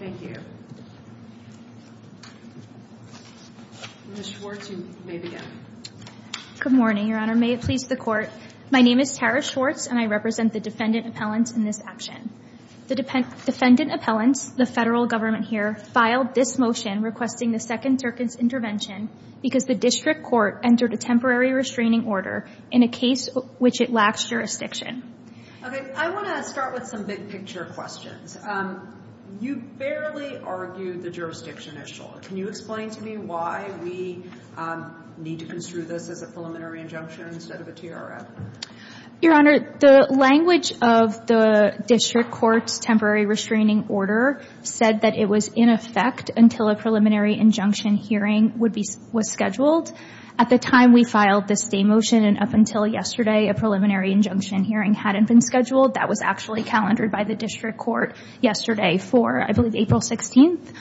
Thank you. Ms. Schwartz, you may begin. Good morning, Your Honor. May it please the Court, my name is Tara Schwartz, and I represent the defendant appellant in this action. The defendant appellant, the federal government here, filed this motion requesting the second Turkish intervention because the district court entered a temporary restraining order in a case which it lacks jurisdiction. Okay, I want to start with some big picture questions. You barely argued the jurisdiction issue. Can you explain to me why we need to construe this as a preliminary injunction instead of a TRF? Your Honor, the language of the district court's temporary restraining order said that it was in effect until a preliminary injunction hearing was scheduled. At the time we filed this day motion and up until yesterday, a preliminary injunction hearing hadn't been scheduled, that was actually calendared by the district court yesterday for, I believe, April 16th.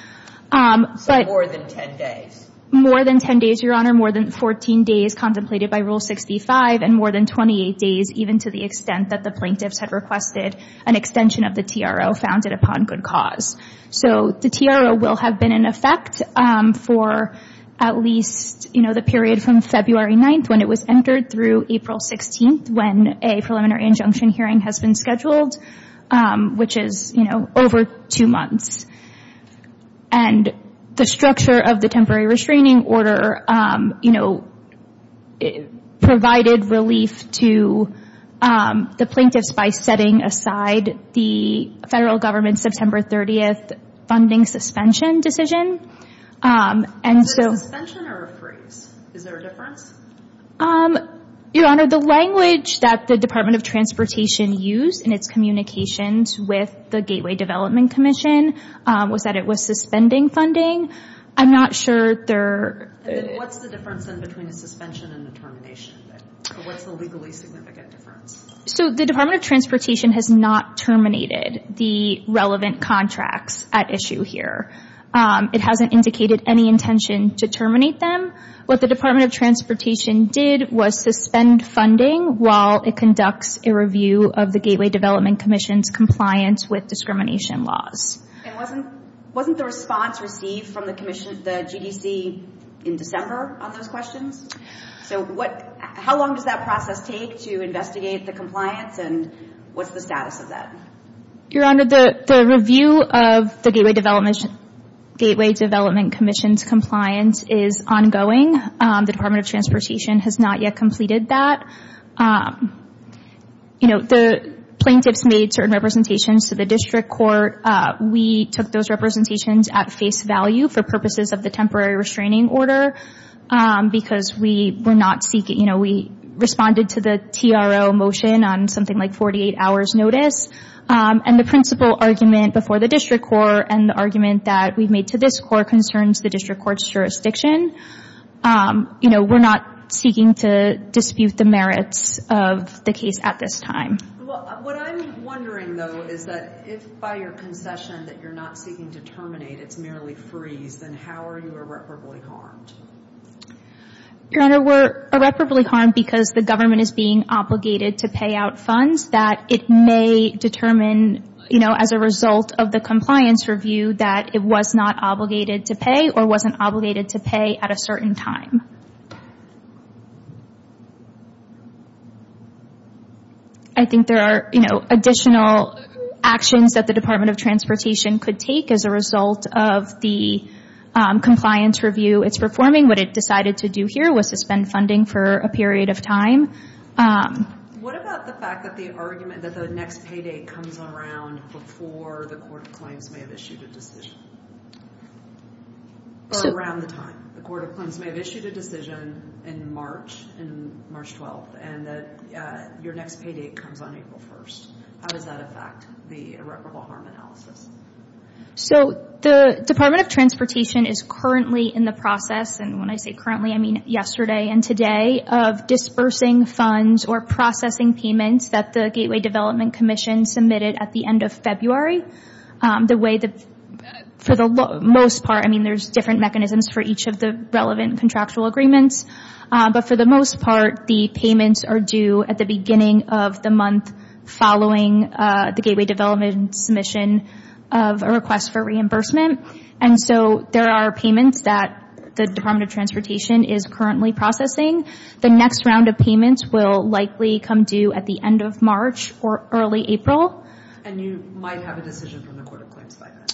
So more than 10 days. More than 10 days, Your Honor, more than 14 days contemplated by Rule 65 and more than 28 days even to the extent that the plaintiffs had requested an extension of the TRO founded upon good cause. So the TRO will have been in effect for at least, you know, the period from February 9th when it was entered through April 16th when a preliminary injunction hearing has been scheduled, which is, you know, over two months. And the structure of the temporary restraining order, you know, provided relief to the plaintiffs by setting aside the federal government's September 30th funding suspension decision. Was it a suspension or a freeze? Is there a difference? Your Honor, the language that the Department of Transportation used in its communications with the Gateway Development Commission was that it was suspending funding. I'm not sure they're – What's the difference then between a suspension and a termination? What's the legally significant difference? So the Department of Transportation has not terminated the relevant contracts at issue here. It hasn't indicated any intention to terminate them. What the Department of Transportation did was suspend funding while it conducts a review of the Gateway Development Commission's compliance with discrimination laws. And wasn't the response received from the GDC in December on those questions? So what – how long does that process take to investigate the compliance and what's the status of that? Your Honor, the review of the Gateway Development Commission's compliance is ongoing. The Department of Transportation has not yet completed that. You know, the plaintiffs made certain representations to the district court. We took those representations at face value for purposes of the temporary restraining order because we were not seeking – you know, we responded to the TRO motion on something like 48 hours' notice. And the principal argument before the district court and the argument that we made to this court concerns the district court's jurisdiction. You know, we're not seeking to dispute the merits of the case at this time. Well, what I'm wondering, though, is that if by your concession that you're not seeking to terminate, it's merely freeze, then how are you irreparably harmed? Your Honor, we're irreparably harmed because the government is being obligated to pay out funds that it may determine, you know, as a result of the compliance review, that it was not obligated to pay or wasn't obligated to pay at a certain time. I think there are, you know, additional actions that the Department of Transportation could take as a result of the compliance review it's performing. What it decided to do here was suspend funding for a period of time. What about the fact that the argument that the next pay date comes around before the court of claims may have issued a decision? Or around the time the court of claims may have issued a decision in March, in March 12th, and that your next pay date comes on April 1st? How does that affect the irreparable harm analysis? So the Department of Transportation is currently in the process, and when I say currently I mean yesterday and today, of dispersing funds or processing payments that the Gateway Development Commission submitted at the end of February. The way that, for the most part, I mean there's different mechanisms for each of the relevant contractual agreements, but for the most part the payments are due at the beginning of the month following the Gateway Development submission of a request for reimbursement. And so there are payments that the Department of Transportation is currently processing. The next round of payments will likely come due at the end of March or early April. And you might have a decision from the court of claims by then?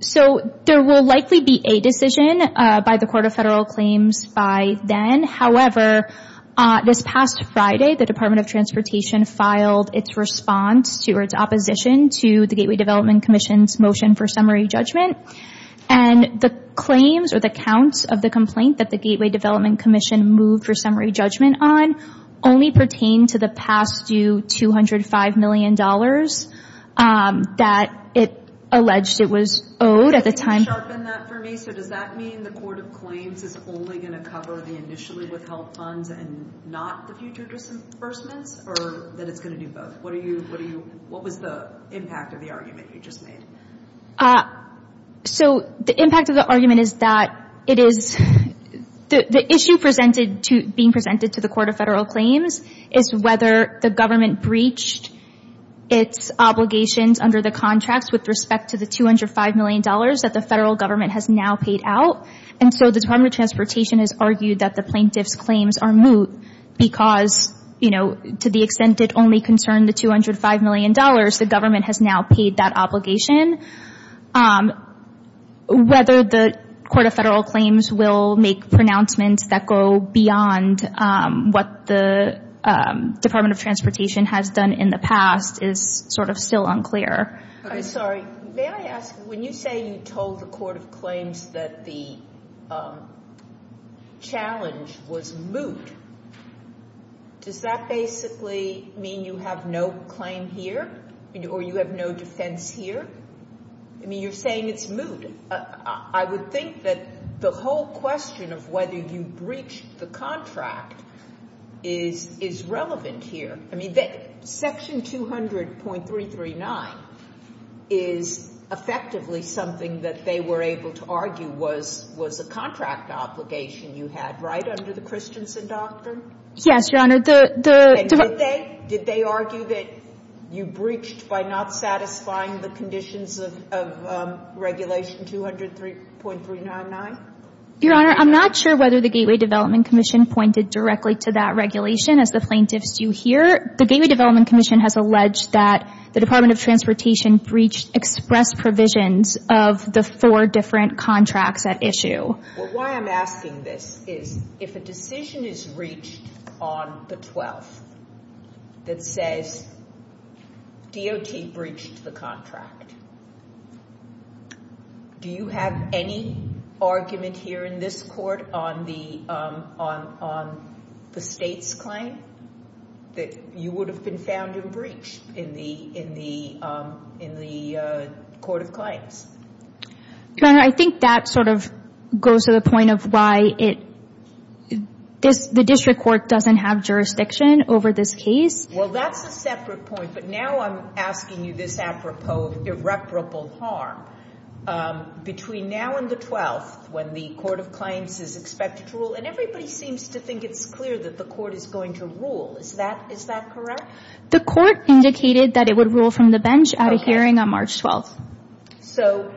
So there will likely be a decision by the court of federal claims by then. However, this past Friday the Department of Transportation filed its response or its opposition to the Gateway Development Commission's motion for summary judgment. And the claims or the counts of the complaint that the Gateway Development Commission moved for summary judgment on only pertain to the past due $205 million that it alleged it was owed at the time. Can you sharpen that for me? So does that mean the court of claims is only going to cover the initially withheld funds and not the future disbursements? Or that it's going to do both? What was the impact of the argument you just made? So the impact of the argument is that it is, the issue being presented to the court of federal claims is whether the government breached its obligations under the contracts with respect to the $205 million that the federal government has now paid out. And so the Department of Transportation has argued that the plaintiff's claims are moot because, you know, to the extent it only concerned the $205 million, the government has now paid that obligation. Whether the court of federal claims will make pronouncements that go beyond what the Department of Transportation has done in the past is sort of still unclear. Sorry. May I ask, when you say you told the court of claims that the challenge was moot, does that basically mean you have no claim here or you have no defense here? I mean, you're saying it's moot. I would think that the whole question of whether you breached the contract is relevant here. I mean, Section 200.339 is effectively something that they were able to argue was a contract obligation you had right under the Christensen Doctrine. Yes, Your Honor. And did they argue that you breached by not satisfying the conditions of Regulation 200.399? Your Honor, I'm not sure whether the Gateway Development Commission pointed directly to that regulation. As the plaintiffs do here, the Gateway Development Commission has alleged that the Department of Transportation breached express provisions of the four different contracts at issue. Why I'm asking this is if a decision is reached on the 12th that says DOT breached the contract, do you have any argument here in this court on the state's claim that you would have been found and breached in the court of claims? Your Honor, I think that sort of goes to the point of why the district court doesn't have jurisdiction over this case. Well, that's a separate point. But now I'm asking you this apropos of irreparable harm. Between now and the 12th, when the court of claims is expected to rule, and everybody seems to think it's clear that the court is going to rule. Is that correct? The court indicated that it would rule from the bench at a hearing on March 12th. So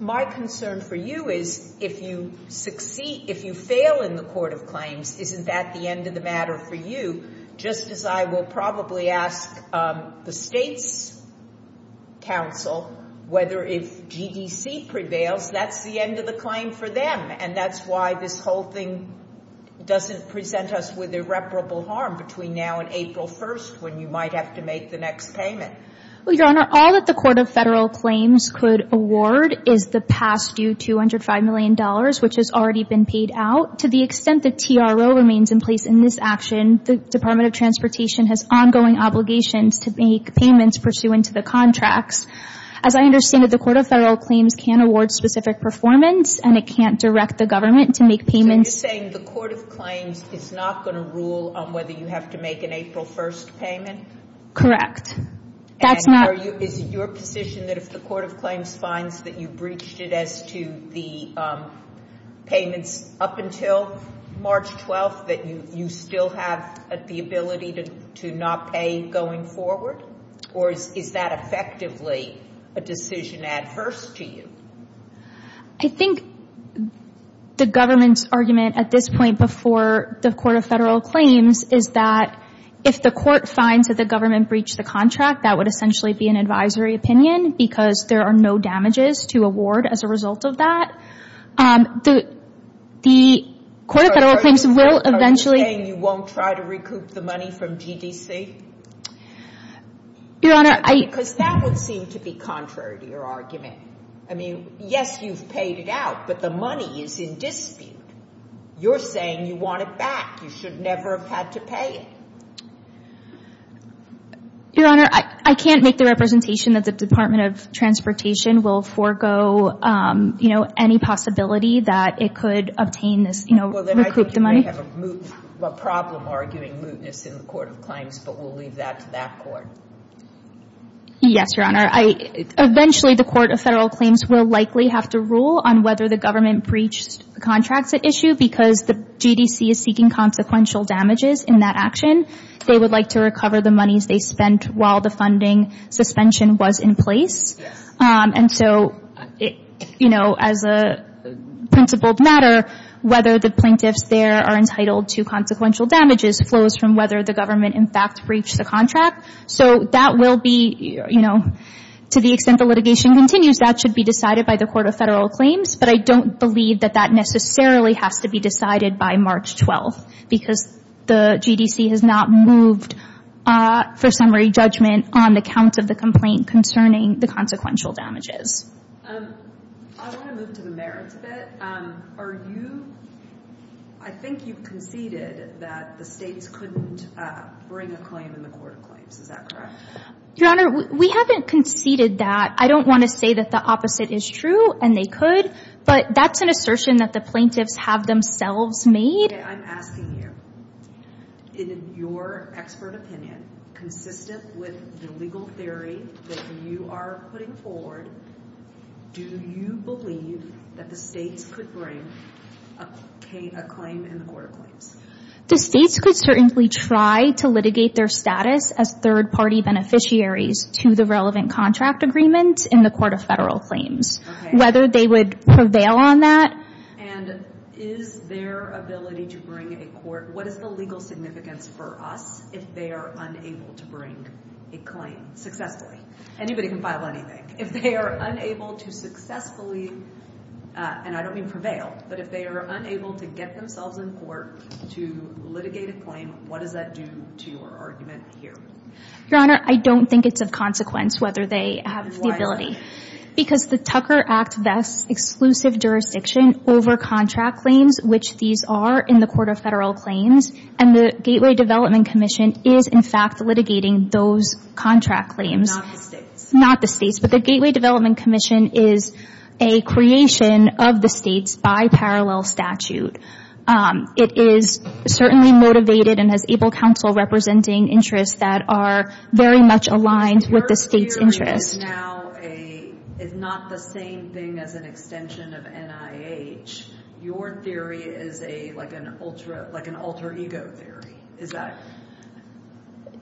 my concern for you is if you succeed, if you fail in the court of claims, isn't that the end of the matter for you? Just as I will probably ask the state's counsel whether if GDC prevails, that's the end of the claim for them. And that's why this whole thing doesn't present us with irreparable harm between now and April 1st, when you might have to make the next payment. Well, Your Honor, all that the court of federal claims could award is the past due $205 million, which has already been paid out. To the extent that TRO remains in place in this action, the Department of Transportation has ongoing obligations to make payments pursuant to the contracts. As I understand it, the court of federal claims can't award specific performance, and it can't direct the government to make payments. So you're saying the court of claims is not going to rule on whether you have to make an April 1st payment? Correct. And is it your position that if the court of claims finds that you breached it as to the payments up until March 12th, that you still have the ability to not pay going forward? Or is that effectively a decision adverse to you? I think the government's argument at this point before the court of federal claims is that if the court finds that the government breached the contract, that would essentially be an advisory opinion because there are no damages to award as a result of that. The court of federal claims will eventually – Are you saying you won't try to recoup the money from GDC? Your Honor, I – Because that would seem to be contrary to your argument. I mean, yes, you've paid it out, but the money is in dispute. You're saying you want it back. You should never have had to pay it. Your Honor, I can't make the representation that the Department of Transportation will forego, you know, any possibility that it could obtain this, you know, recoup the money. Well, then I think you may have a problem arguing mootness in the court of claims, but we'll leave that to that court. Yes, Your Honor. Eventually, the court of federal claims will likely have to rule on whether the government breached the contract at issue because the GDC is seeking consequential damages in that action. They would like to recover the monies they spent while the funding suspension was in place. And so, you know, as a principled matter, whether the plaintiffs there are entitled to consequential damages flows from whether the government, in fact, breached the contract. So that will be, you know, to the extent the litigation continues, that should be decided by the court of federal claims. But I don't believe that that necessarily has to be decided by March 12th because the GDC has not moved for summary judgment on the count of the complaint concerning the consequential damages. I want to move to the merits of it. Are you—I think you've conceded that the states couldn't bring a claim in the court of claims. Is that correct? Your Honor, we haven't conceded that. I don't want to say that the opposite is true, and they could, but that's an assertion that the plaintiffs have themselves made. Okay, I'm asking you, in your expert opinion, consistent with the legal theory that you are putting forward, do you believe that the states could bring a claim in the court of claims? The states could certainly try to litigate their status as third-party beneficiaries to the relevant contract agreement in the court of federal claims, whether they would prevail on that. And is their ability to bring a court— what is the legal significance for us if they are unable to bring a claim successfully? Anybody can file anything. If they are unable to successfully—and I don't mean prevail— but if they are unable to get themselves in court to litigate a claim, what does that do to your argument here? Your Honor, I don't think it's of consequence whether they have the ability. Why is that? Because the Tucker Act vests exclusive jurisdiction over contract claims, which these are in the court of federal claims, and the Gateway Development Commission is, in fact, litigating those contract claims. Not the states. Not the states. But the Gateway Development Commission is a creation of the states by parallel statute. It is certainly motivated and has able counsel representing interests that are very much aligned with the states' interests. Because your theory is now a—is not the same thing as an extension of NIH. Your theory is like an alter ego theory. Is that—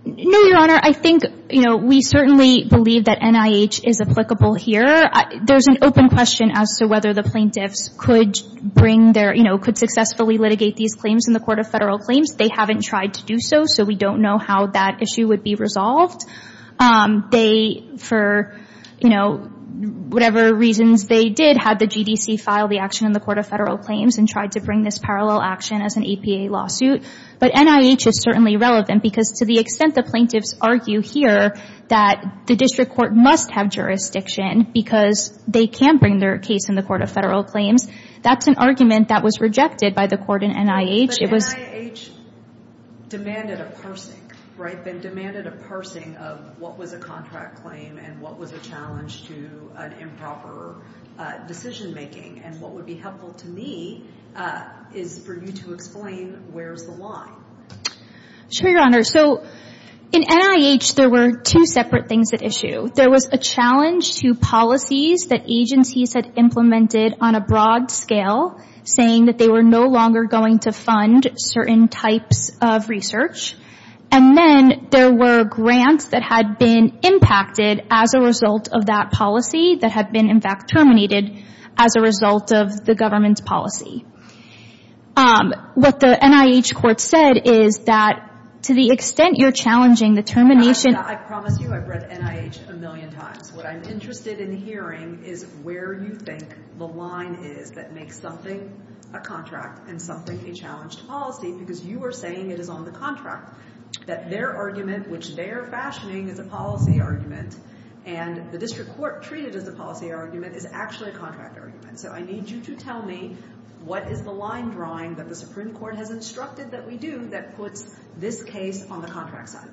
No, your Honor. I think, you know, we certainly believe that NIH is applicable here. There's an open question as to whether the plaintiffs could bring their— you know, could successfully litigate these claims in the court of federal claims. They haven't tried to do so, so we don't know how that issue would be resolved. They, for, you know, whatever reasons they did, had the GDC file the action in the court of federal claims and tried to bring this parallel action as an EPA lawsuit. But NIH is certainly relevant because to the extent the plaintiffs argue here that the district court must have jurisdiction because they can bring their case in the court of federal claims, that's an argument that was rejected by the court in NIH. But NIH demanded a parsing, right? They demanded a parsing of what was a contract claim and what was a challenge to an improper decision making. And what would be helpful to me is for you to explain where's the line. Sure, your Honor. So in NIH, there were two separate things at issue. There was a challenge to policies that agencies had implemented on a broad scale saying that they were no longer going to fund certain types of research. And then there were grants that had been impacted as a result of that policy that had been, in fact, terminated as a result of the government's policy. What the NIH court said is that to the extent you're challenging the termination. Your Honor, I promise you I've read NIH a million times. What I'm interested in hearing is where you think the line is that makes something a contract and something a challenged policy because you are saying it is on the contract, that their argument, which they are fashioning as a policy argument, and the district court treated as a policy argument is actually a contract argument. So I need you to tell me what is the line drawing that the Supreme Court has instructed that we do that puts this case on the contract side.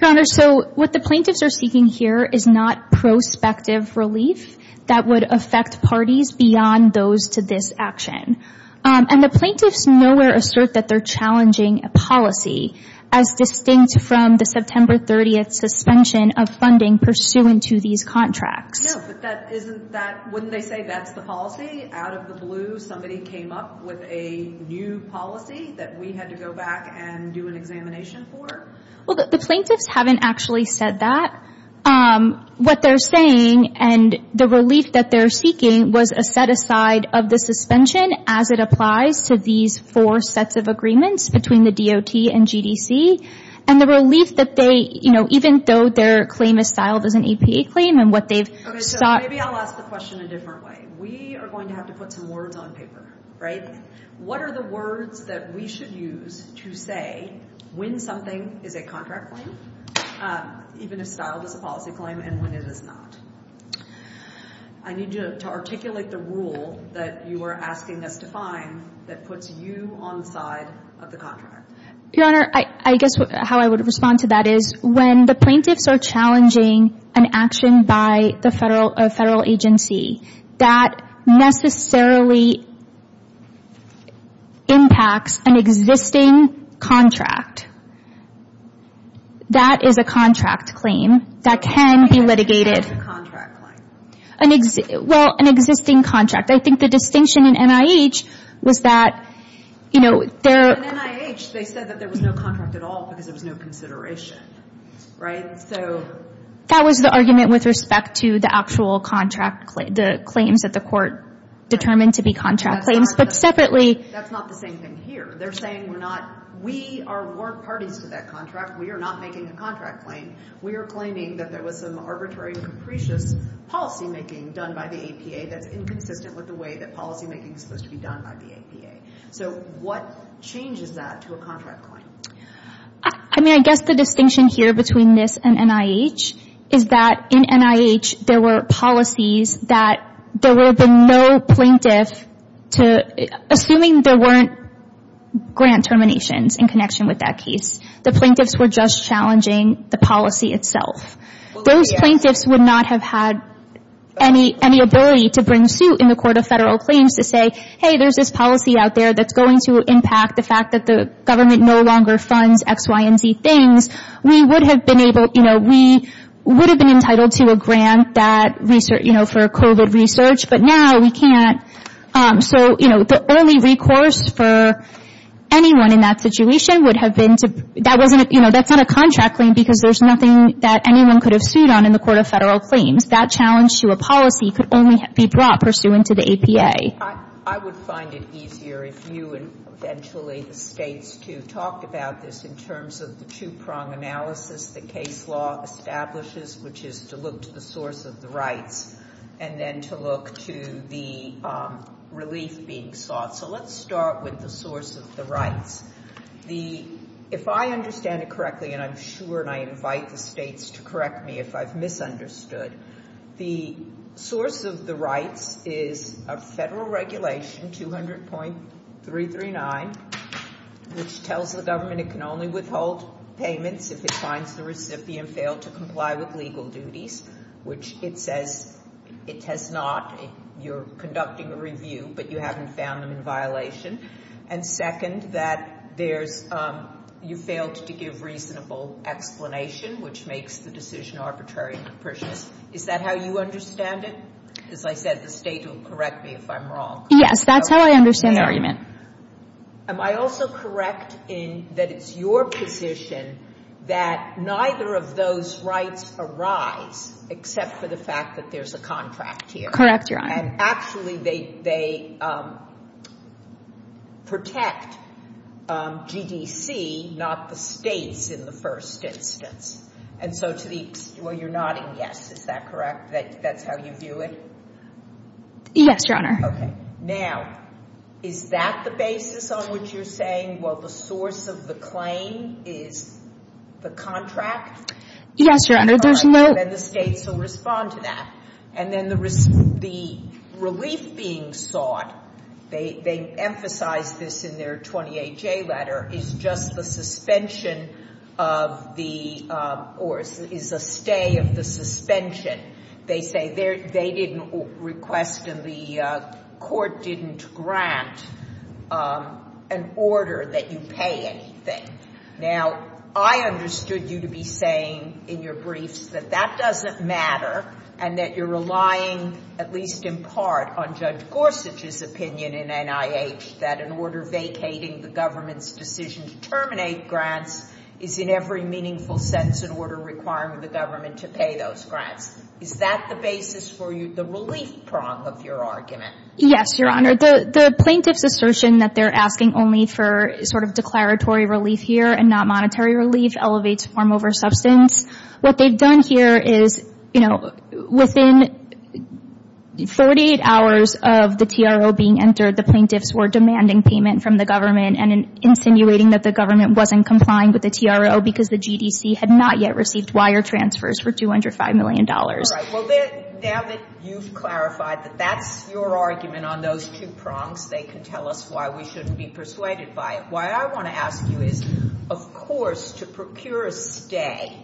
Your Honor, so what the plaintiffs are seeking here is not prospective relief that would affect parties beyond those to this action. And the plaintiffs nowhere assert that they're challenging a policy as distinct from the September 30th suspension of funding pursuant to these contracts. No, but wouldn't they say that's the policy? Out of the blue somebody came up with a new policy that we had to go back and do an examination for? Well, the plaintiffs haven't actually said that. What they're saying and the relief that they're seeking was a set aside of the suspension as it applies to these four sets of agreements between the DOT and GDC, and the relief that they, you know, even though their claim is styled as an EPA claim and what they've sought. Okay, so maybe I'll ask the question a different way. We are going to have to put some words on paper, right? What are the words that we should use to say when something is a contract claim, even if styled as a policy claim, and when it is not? I need you to articulate the rule that you are asking us to find that puts you on the side of the contract. Your Honor, I guess how I would respond to that is when the plaintiffs are challenging an action by a federal agency that necessarily impacts an existing contract, that is a contract claim that can be litigated. Well, an existing contract. I think the distinction in NIH was that, you know, there... In NIH, they said that there was no contract at all because there was no consideration, right? So... That was the argument with respect to the actual contract, the claims that the court determined to be contract claims, but separately... That's not the same thing here. They're saying we're not... We are warned parties to that contract. We are not making a contract claim. We are claiming that there was some arbitrary and capricious policymaking done by the APA that's inconsistent with the way that policymaking is supposed to be done by the APA. So what changes that to a contract claim? I mean, I guess the distinction here between this and NIH is that in NIH, there were policies that there would have been no plaintiff to... Assuming there weren't grant terminations in connection with that case, the plaintiffs were just challenging the policy itself. Those plaintiffs would not have had any ability to bring suit in the court of federal claims to say, hey, there's this policy out there that's going to impact the fact that the government no longer funds X, Y, and Z things. We would have been able... You know, we would have been entitled to a grant that, you know, for COVID research, but now we can't. So, you know, the only recourse for anyone in that situation would have been to... That's not a contract claim because there's nothing that anyone could have sued on in the court of federal claims. That challenge to a policy could only be brought pursuant to the APA. I would find it easier if you and eventually the states to talk about this in terms of the two-prong analysis the case law establishes, which is to look to the source of the rights and then to look to the relief being sought. So let's start with the source of the rights. If I understand it correctly, and I'm sure, and I invite the states to correct me if I've misunderstood, the source of the rights is a federal regulation, 200.339, which tells the government it can only withhold payments if it finds the recipient failed to comply with legal duties, which it says it has not. You're conducting a review, but you haven't found them in violation. And second, that you failed to give reasonable explanation, which makes the decision arbitrary and capricious. Is that how you understand it? As I said, the state will correct me if I'm wrong. Yes, that's how I understand the argument. Am I also correct in that it's your position that neither of those rights arise except for the fact that there's a contract here? Correct, Your Honor. And actually they protect GDC, not the states in the first instance. And so to the—well, you're nodding yes. Is that correct that that's how you view it? Yes, Your Honor. Okay. Now, is that the basis on which you're saying, well, the source of the claim is the contract? Yes, Your Honor. Then the states will respond to that. And then the relief being sought, they emphasize this in their 28J letter, is just the suspension of the—or is a stay of the suspension. They say they didn't request and the court didn't grant an order that you pay anything. Now, I understood you to be saying in your briefs that that doesn't matter and that you're relying at least in part on Judge Gorsuch's opinion in NIH that an order vacating the government's decision to terminate grants is in every meaningful sense an order requiring the government to pay those grants. Is that the basis for you, the relief prong of your argument? Yes, Your Honor. The plaintiff's assertion that they're asking only for sort of declaratory relief here and not monetary relief elevates form over substance. What they've done here is, you know, within 48 hours of the TRO being entered, the plaintiffs were demanding payment from the government and insinuating that the government wasn't complying with the TRO because the GDC had not yet received wire transfers for $205 million. All right. Well, now that you've clarified that that's your argument on those two prongs, they can tell us why we shouldn't be persuaded by it. Why I want to ask you is, of course, to procure a stay,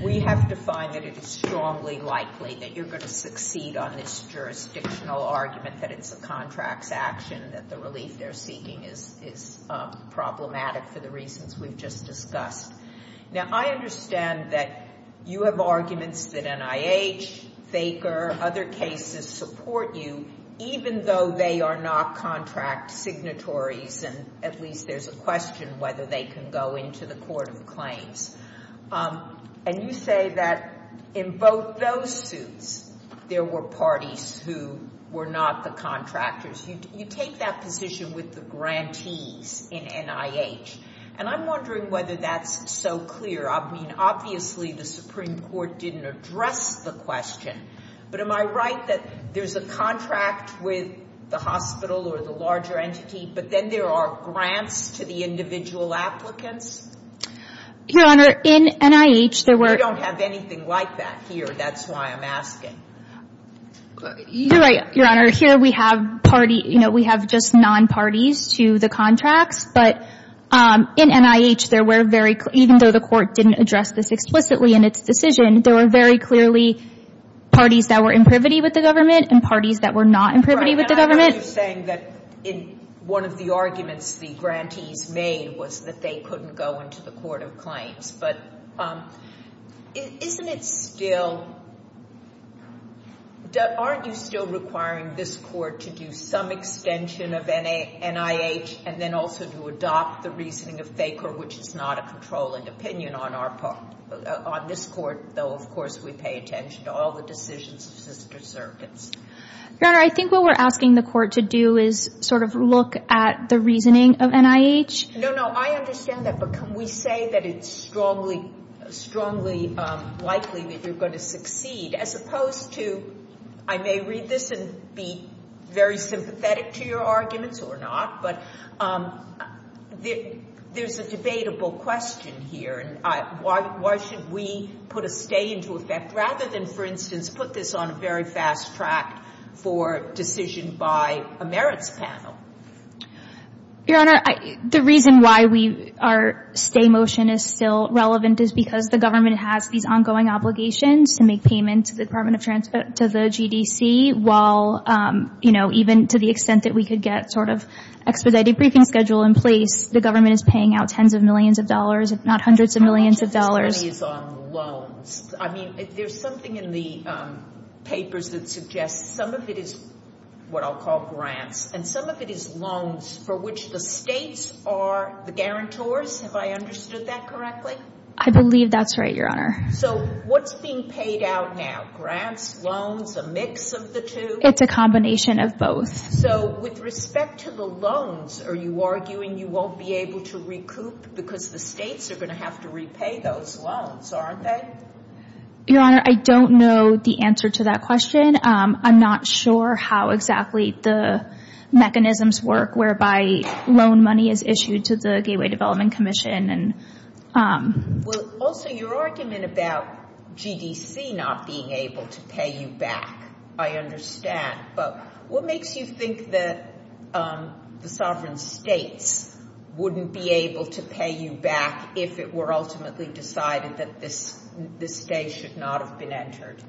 we have to find that it is strongly likely that you're going to succeed on this jurisdictional argument that it's a contracts action, that the relief they're seeking is problematic for the reasons we've just discussed. Now, I understand that you have arguments that NIH, FACR, other cases support you, even though they are not contract signatories, and at least there's a question whether they can go into the court of claims. And you say that in both those suits, there were parties who were not the contractors. You take that position with the grantees in NIH, and I'm wondering whether that's so clear. I mean, obviously, the Supreme Court didn't address the question, but am I right that there's a contract with the hospital or the larger entity, but then there are grants to the individual applicants? Your Honor, in NIH, there were — We don't have anything like that here. That's why I'm asking. You're right, Your Honor. Here, we have party — you know, we have just non-parties to the contracts, but in NIH, there were very — even though the court didn't address this explicitly in its decision, there were very clearly parties that were in privity with the government and parties that were not in privity with the government. You're saying that in one of the arguments the grantees made was that they couldn't go into the court of claims, but isn't it still — aren't you still requiring this court to do some extension of NIH and then also to adopt the reasoning of Thaker, which is not a controlling opinion on our part? On this court, though, of course, we pay attention to all the decisions of sister circuits. Your Honor, I think what we're asking the court to do is sort of look at the reasoning of NIH. No, no, I understand that, but can we say that it's strongly likely that you're going to succeed, as opposed to — I may read this and be very sympathetic to your arguments or not, but there's a debatable question here, and why should we put a stay into effect rather than, for instance, put this on a very fast track for decision by a merits panel? Your Honor, the reason why we — our stay motion is still relevant is because the government has these ongoing obligations to make payment to the Department of — to the GDC, while, you know, even to the extent that we could get sort of expedited briefing schedule in place, the government is paying out tens of millions of dollars, if not hundreds of millions of dollars. But the money is on loans. I mean, there's something in the papers that suggests some of it is what I'll call grants, and some of it is loans for which the states are the guarantors. Have I understood that correctly? I believe that's right, Your Honor. So what's being paid out now, grants, loans, a mix of the two? It's a combination of both. So with respect to the loans, are you arguing you won't be able to recoup because the states are going to have to repay those loans, aren't they? Your Honor, I don't know the answer to that question. I'm not sure how exactly the mechanisms work whereby loan money is issued to the Gateway Development Commission. Well, also, your argument about GDC not being able to pay you back, I understand. But what makes you think that the sovereign states wouldn't be able to pay you back if it were ultimately decided that this day should not have been entered?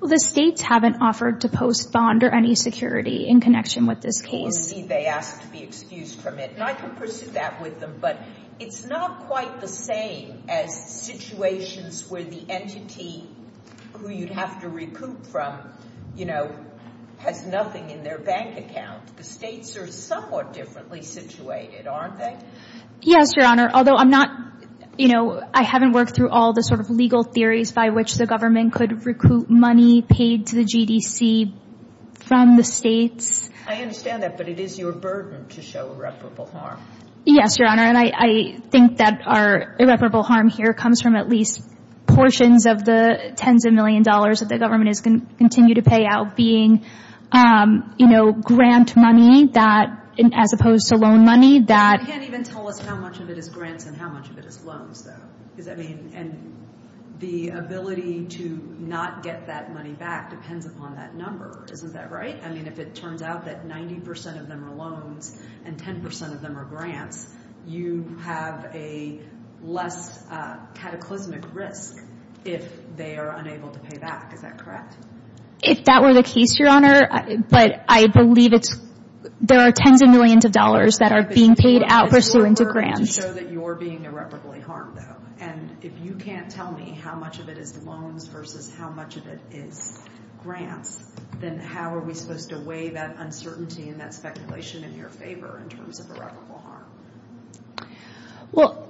Well, the states haven't offered to post bond or any security in connection with this case. Maybe they asked to be excused from it. And I can pursue that with them, but it's not quite the same as situations where the entity who you'd have to recoup from, you know, has nothing in their bank account. The states are somewhat differently situated, aren't they? Yes, your Honor, although I'm not, you know, I haven't worked through all the sort of legal theories by which the government could recoup money paid to the GDC from the states. I understand that, but it is your burden to show irreparable harm. Yes, your Honor, and I think that our irreparable harm here comes from at least portions of the tens of millions of dollars that the government is going to continue to pay out being, you know, grant money as opposed to loan money. You can't even tell us how much of it is grants and how much of it is loans, though. And the ability to not get that money back depends upon that number. Isn't that right? I mean, if it turns out that 90% of them are loans and 10% of them are grants, you have a less cataclysmic risk if they are unable to pay back. Is that correct? If that were the case, your Honor, but I believe it's, there are tens of millions of dollars that are being paid out pursuant to grants. It's your burden to show that you're being irreparably harmed, though. And if you can't tell me how much of it is loans versus how much of it is grants, then how are we supposed to weigh that uncertainty and that speculation in your favor in terms of irreparable harm? Well,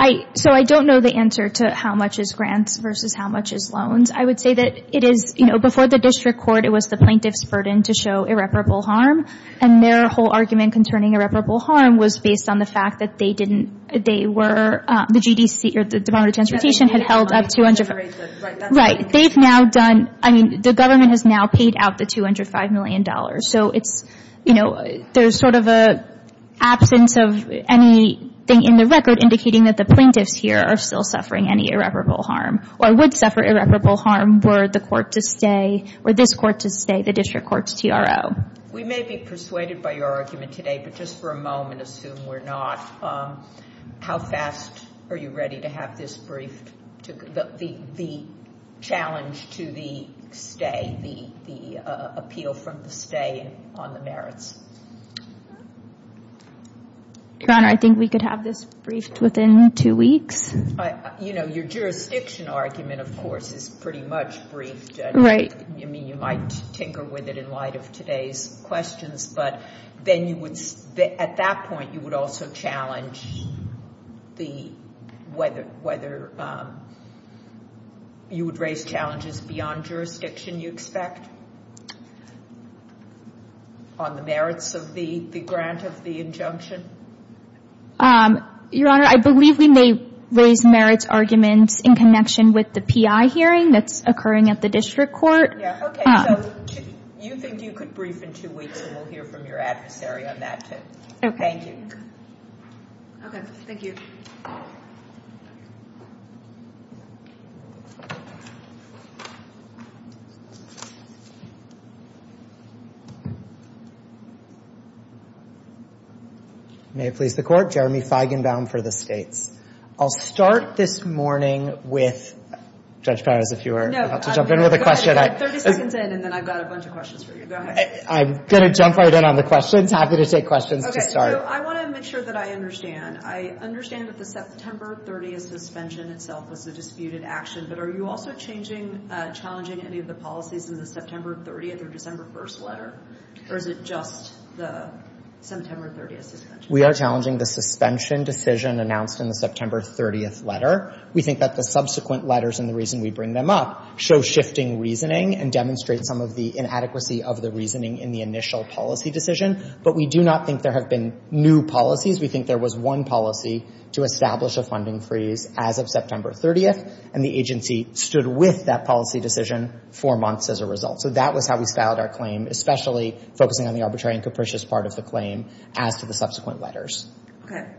I, so I don't know the answer to how much is grants versus how much is loans. I would say that it is, you know, before the district court, it was the plaintiff's burden to show irreparable harm. And their whole argument concerning irreparable harm was based on the fact that they didn't, they were, the GDC or the Department of Transportation had held up 200. Right. They've now done, I mean, the government has now paid out the $205 million. So it's, you know, there's sort of an absence of anything in the record indicating that the plaintiffs here are still suffering any irreparable harm or would suffer irreparable harm were the court to stay, were this court to stay, the district court's TRO. We may be persuaded by your argument today, but just for a moment, assume we're not, how fast are you ready to have this briefed, the challenge to the stay, the appeal from the stay on the merits? Your Honor, I think we could have this briefed within two weeks. You know, your jurisdiction argument, of course, is pretty much briefed. Right. I mean, you might tinker with it in light of today's questions, but then you would, at that point, you would also challenge the, whether you would raise challenges beyond jurisdiction, you expect, on the merits of the grant of the injunction? Your Honor, I believe we may raise merits arguments in connection with the PI hearing that's occurring at the district court. Yeah, okay, so you think you could brief in two weeks, and we'll hear from your adversary on that, too. Okay. Thank you. Okay, thank you. May it please the Court, Jeremy Feigenbaum for the States. I'll start this morning with Judge Perez, if you were about to jump in with a question. 30 seconds in, and then I've got a bunch of questions for you. Go ahead. I'm going to jump right in on the questions. Happy to take questions to start. Okay, so I want to make sure that I understand. I understand that the September 30th suspension itself was a disputed action, but are you also changing, challenging any of the policies in the September 30th or December 1st letter? Or is it just the September 30th suspension? We are challenging the suspension decision announced in the September 30th letter. We think that the subsequent letters and the reason we bring them up show shifting reasoning and demonstrate some of the inadequacy of the reasoning in the initial policy decision, but we do not think there have been new policies. We think there was one policy to establish a funding freeze as of September 30th, and the agency stood with that policy decision for months as a result. So that was how we styled our claim, especially focusing on the arbitrary and capricious part of the claim as to the subsequent letters. Okay.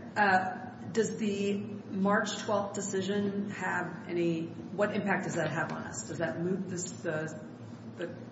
Does the March 12th decision have any—what impact does that have on us? Does that move the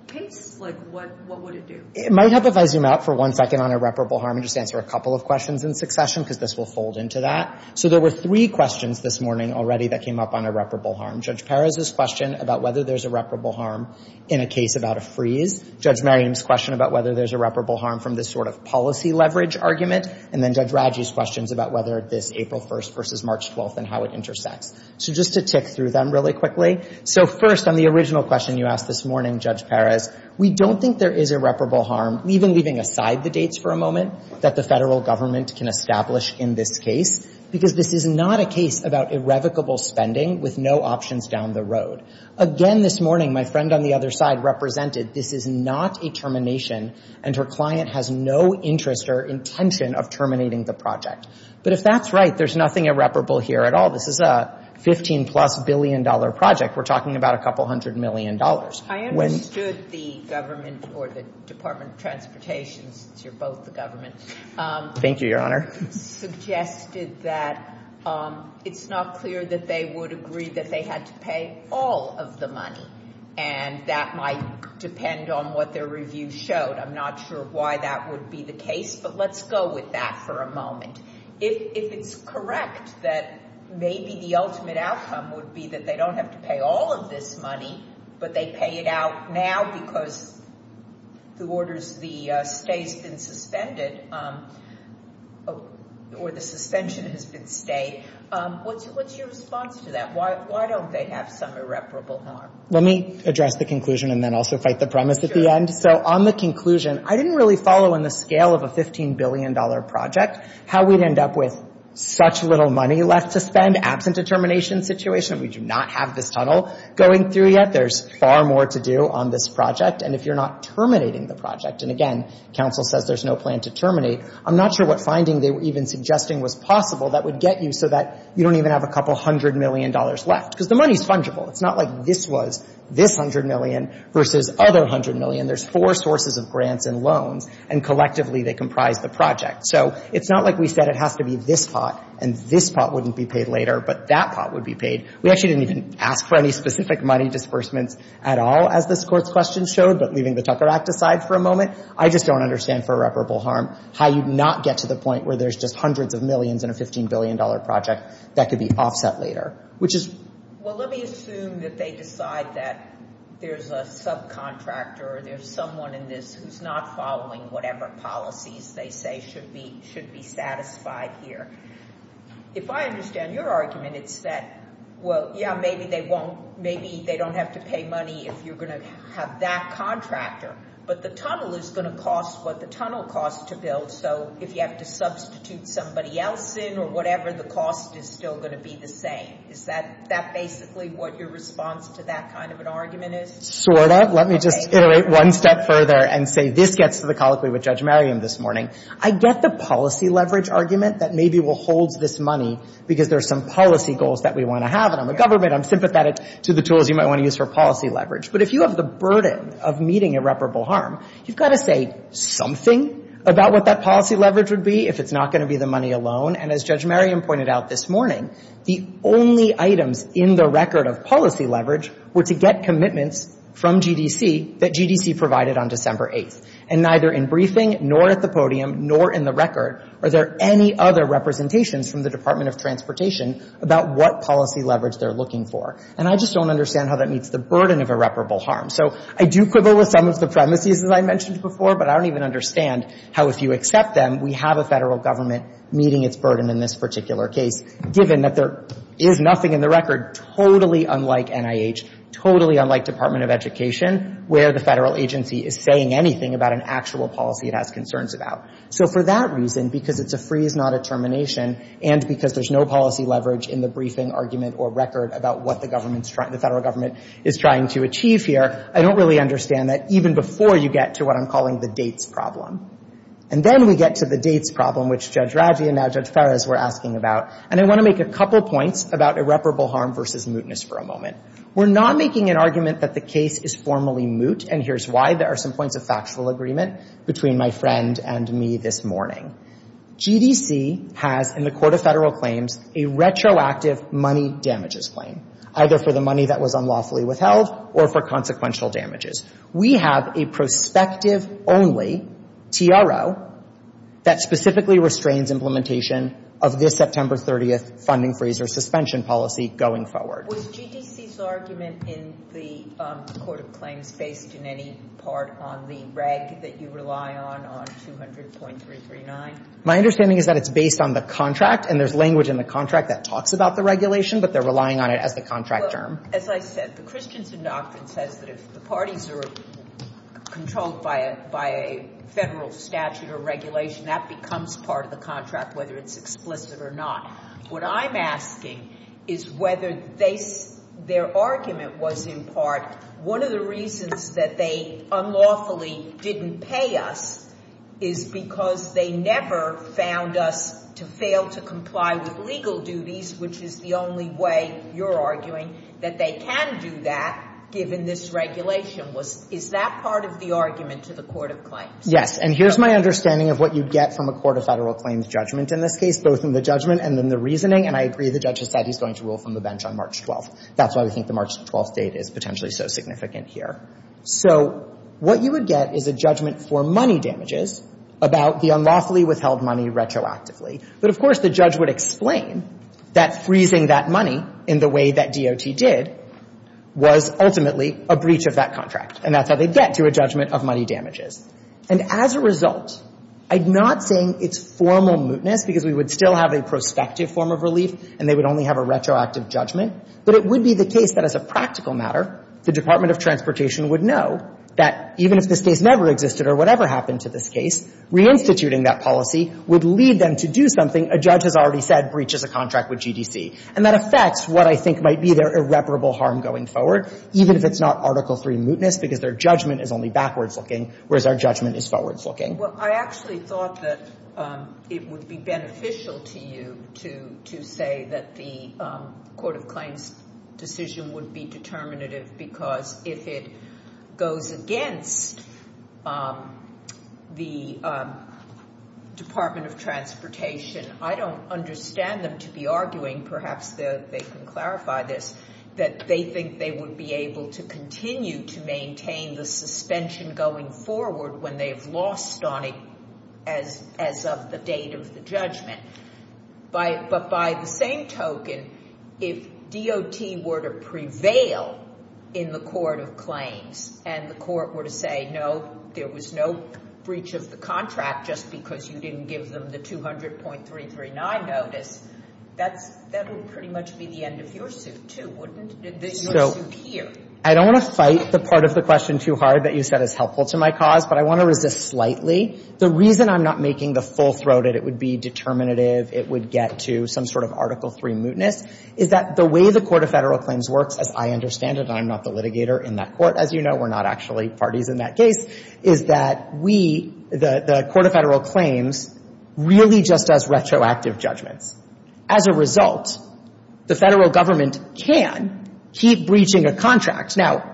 pace? Like, what would it do? It might help if I zoom out for one second on irreparable harm and just answer a couple of questions in succession because this will fold into that. So there were three questions this morning already that came up on irreparable harm. Judge Perez's question about whether there's irreparable harm in a case about a freeze, Judge Merriam's question about whether there's irreparable harm from this sort of policy leverage argument, and then Judge Radji's questions about whether this April 1st versus March 12th and how it intersects. So just to tick through them really quickly. So first, on the original question you asked this morning, Judge Perez, we don't think there is irreparable harm, even leaving aside the dates for a moment, that the federal government can establish in this case because this is not a case about irrevocable spending with no options down the road. Again, this morning, my friend on the other side represented this is not a termination and her client has no interest or intention of terminating the project. But if that's right, there's nothing irreparable here at all. This is a $15-plus billion project. We're talking about a couple hundred million dollars. I understood the government or the Department of Transportation, since you're both the government. Thank you, Your Honor. Suggested that it's not clear that they would agree that they had to pay all of the money and that might depend on what their review showed. I'm not sure why that would be the case, but let's go with that for a moment. If it's correct that maybe the ultimate outcome would be that they don't have to pay all of this money, but they pay it out now because the stay has been suspended or the suspension has been stayed, what's your response to that? Why don't they have some irreparable harm? Let me address the conclusion and then also fight the premise at the end. Sure. So on the conclusion, I didn't really follow in the scale of a $15 billion project how we'd end up with such little money left to spend absent a termination situation. We do not have this tunnel going through yet. There's far more to do on this project. And if you're not terminating the project, and again, counsel says there's no plan to terminate, I'm not sure what finding they were even suggesting was possible that would get you so that you don't even have a couple hundred million dollars left. Because the money is fungible. It's not like this was this hundred million versus other hundred million. There's four sources of grants and loans, and collectively they comprise the project. So it's not like we said it has to be this pot and this pot wouldn't be paid later, but that pot would be paid. We actually didn't even ask for any specific money disbursements at all, as this Court's question showed, but leaving the Tucker Act aside for a moment, I just don't understand for irreparable harm how you'd not get to the point where there's just hundreds of millions in a $15 billion project that could be offset later. Well, let me assume that they decide that there's a subcontractor or there's someone in this who's not following whatever policies they say should be satisfied here. If I understand your argument, it's that, well, yeah, maybe they don't have to pay money if you're going to have that contractor, but the tunnel is going to cost what the tunnel costs to build, so if you have to substitute somebody else in or whatever, the cost is still going to be the same. Is that basically what your response to that kind of an argument is? Sort of. Let me just iterate one step further and say this gets to the colloquy with Judge Merriam this morning. I get the policy leverage argument that maybe will hold this money because there's some policy goals that we want to have, and I'm a government. I'm sympathetic to the tools you might want to use for policy leverage, but if you have the burden of meeting irreparable harm, you've got to say something about what that policy leverage would be if it's not going to be the money alone, and as Judge Merriam pointed out this morning, the only items in the record of policy leverage were to get commitments from GDC that GDC provided on December 8th, and neither in briefing nor at the podium nor in the record are there any other representations from the Department of Transportation about what policy leverage they're looking for. And I just don't understand how that meets the burden of irreparable harm. So I do quibble with some of the premises, as I mentioned before, but I don't even understand how, if you accept them, we have a federal government meeting its burden in this particular case, given that there is nothing in the record totally unlike NIH, totally unlike Department of Education, where the federal agency is saying anything about an actual policy it has concerns about. So for that reason, because it's a freeze, not a termination, and because there's no policy leverage in the briefing, argument, or record about what the government's trying, the federal government is trying to achieve here, I don't really understand that even before you get to what I'm calling the dates problem. And then we get to the dates problem, which Judge Raggi and now Judge Fares were asking about, and I want to make a couple points about irreparable harm versus mootness for a moment. We're not making an argument that the case is formally moot, and here's why. There are some points of factual agreement between my friend and me this morning. GDC has, in the Court of Federal Claims, a retroactive money damages claim, either for the money that was unlawfully withheld or for consequential damages. We have a prospective-only TRO that specifically restrains implementation of this September 30th funding freeze or suspension policy going forward. Was GDC's argument in the Court of Claims based in any part on the reg that you rely on, on 200.339? My understanding is that it's based on the contract, and there's language in the contract that talks about the regulation, but they're relying on it as the contract term. Well, as I said, the Christensen Doctrine says that if the parties are controlled by a federal statute or regulation, that becomes part of the contract, whether it's explicit or not. What I'm asking is whether their argument was in part one of the reasons that they unlawfully didn't pay us is because they never found us to fail to comply with legal duties, which is the only way, you're arguing, that they can do that given this regulation. Is that part of the argument to the Court of Claims? Yes. And here's my understanding of what you get from a Court of Federal Claims judgment in this case, both in the judgment and in the reasoning. And I agree the judge has said he's going to rule from the bench on March 12th. That's why we think the March 12th date is potentially so significant here. So what you would get is a judgment for money damages about the unlawfully withheld money retroactively. But, of course, the judge would explain that freezing that money in the way that DOT did was ultimately a breach of that contract. And that's how they get to a judgment of money damages. And as a result, I'm not saying it's formal mootness because we would still have a prospective form of relief and they would only have a retroactive judgment. But it would be the case that as a practical matter, the Department of Transportation would know that even if this case never existed or whatever happened to this case, reinstituting that policy would lead them to do something a judge has already said breaches a contract with GDC. And that affects what I think might be their irreparable harm going forward, even if it's not Article III mootness because their judgment is only backwards looking, whereas our judgment is forwards looking. Well, I actually thought that it would be beneficial to you to say that the Court of Claims decision would be determinative because if it goes against the Department of Transportation, I don't understand them to be arguing, perhaps they can clarify this, that they think they would be able to continue to maintain the suspension going forward when they've lost on it as of the date of the judgment. But by the same token, if DOT were to prevail in the Court of Claims and the court were to say, no, there was no breach of the contract just because you didn't give them the 200.339 notice, that would pretty much be the end of your suit too, wouldn't it? Your suit here. I don't want to fight the part of the question too hard that you said is helpful to my cause, but I want to resist slightly. The reason I'm not making the full-throated it would be determinative, it would get to some sort of Article III mootness, is that the way the Court of Federal Claims works, as I understand it, and I'm not the litigator in that court, as you know, we're not actually parties in that case, is that we, the Court of Federal Claims, really just does retroactive judgments. As a result, the Federal Government can keep breaching a contract. Now,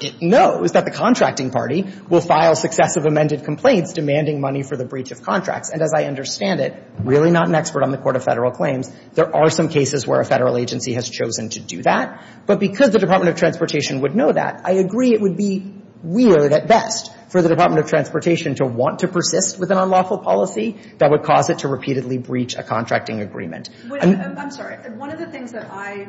it knows that the contracting party will file successive amended complaints demanding money for the breach of contracts. And as I understand it, really not an expert on the Court of Federal Claims, there are some cases where a Federal agency has chosen to do that. But because the Department of Transportation would know that, I agree it would be weird at best for the Department of Transportation to want to persist with an I'm sorry, one of the things that I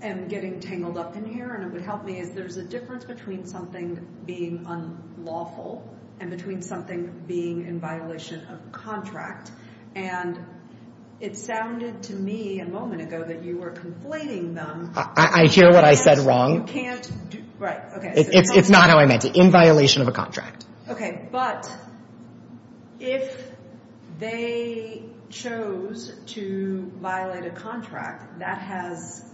am getting tangled up in here, and it would help me, is there's a difference between something being unlawful and between something being in violation of contract. And it sounded to me a moment ago that you were conflating them. I hear what I said wrong. You can't, right, okay. It's not how I meant it, in violation of a contract. Okay, but if they chose to violate a contract, that has,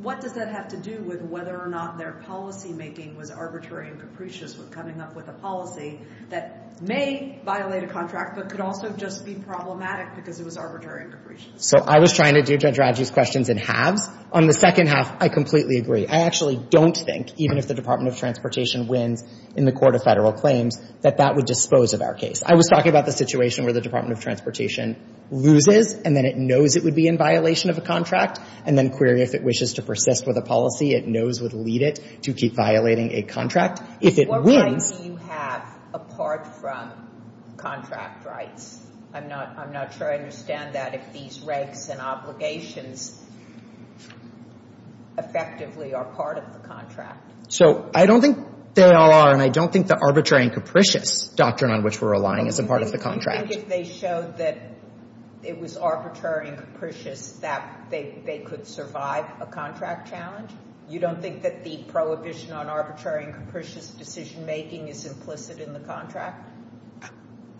what does that have to do with whether or not their policymaking was arbitrary and capricious with coming up with a policy that may violate a contract, but could also just be problematic because it was arbitrary and capricious. So I was trying to do Judge Radji's questions in halves. On the second half, I completely agree. I actually don't think, even if the Department of Transportation wins in the court of federal claims, that that would dispose of our case. I was talking about the situation where the Department of Transportation loses, and then it knows it would be in violation of a contract, and then query if it wishes to persist with a policy it knows would lead it to keep violating a contract. If it wins. What rights do you have apart from contract rights? I'm not sure I understand that, if these rights and obligations effectively are part of the contract. So I don't think they all are, and I don't think the arbitrary and capricious doctrine on which we're relying is a part of the contract. Do you think if they showed that it was arbitrary and capricious that they could survive a contract challenge? You don't think that the prohibition on arbitrary and capricious decision-making is implicit in the contract?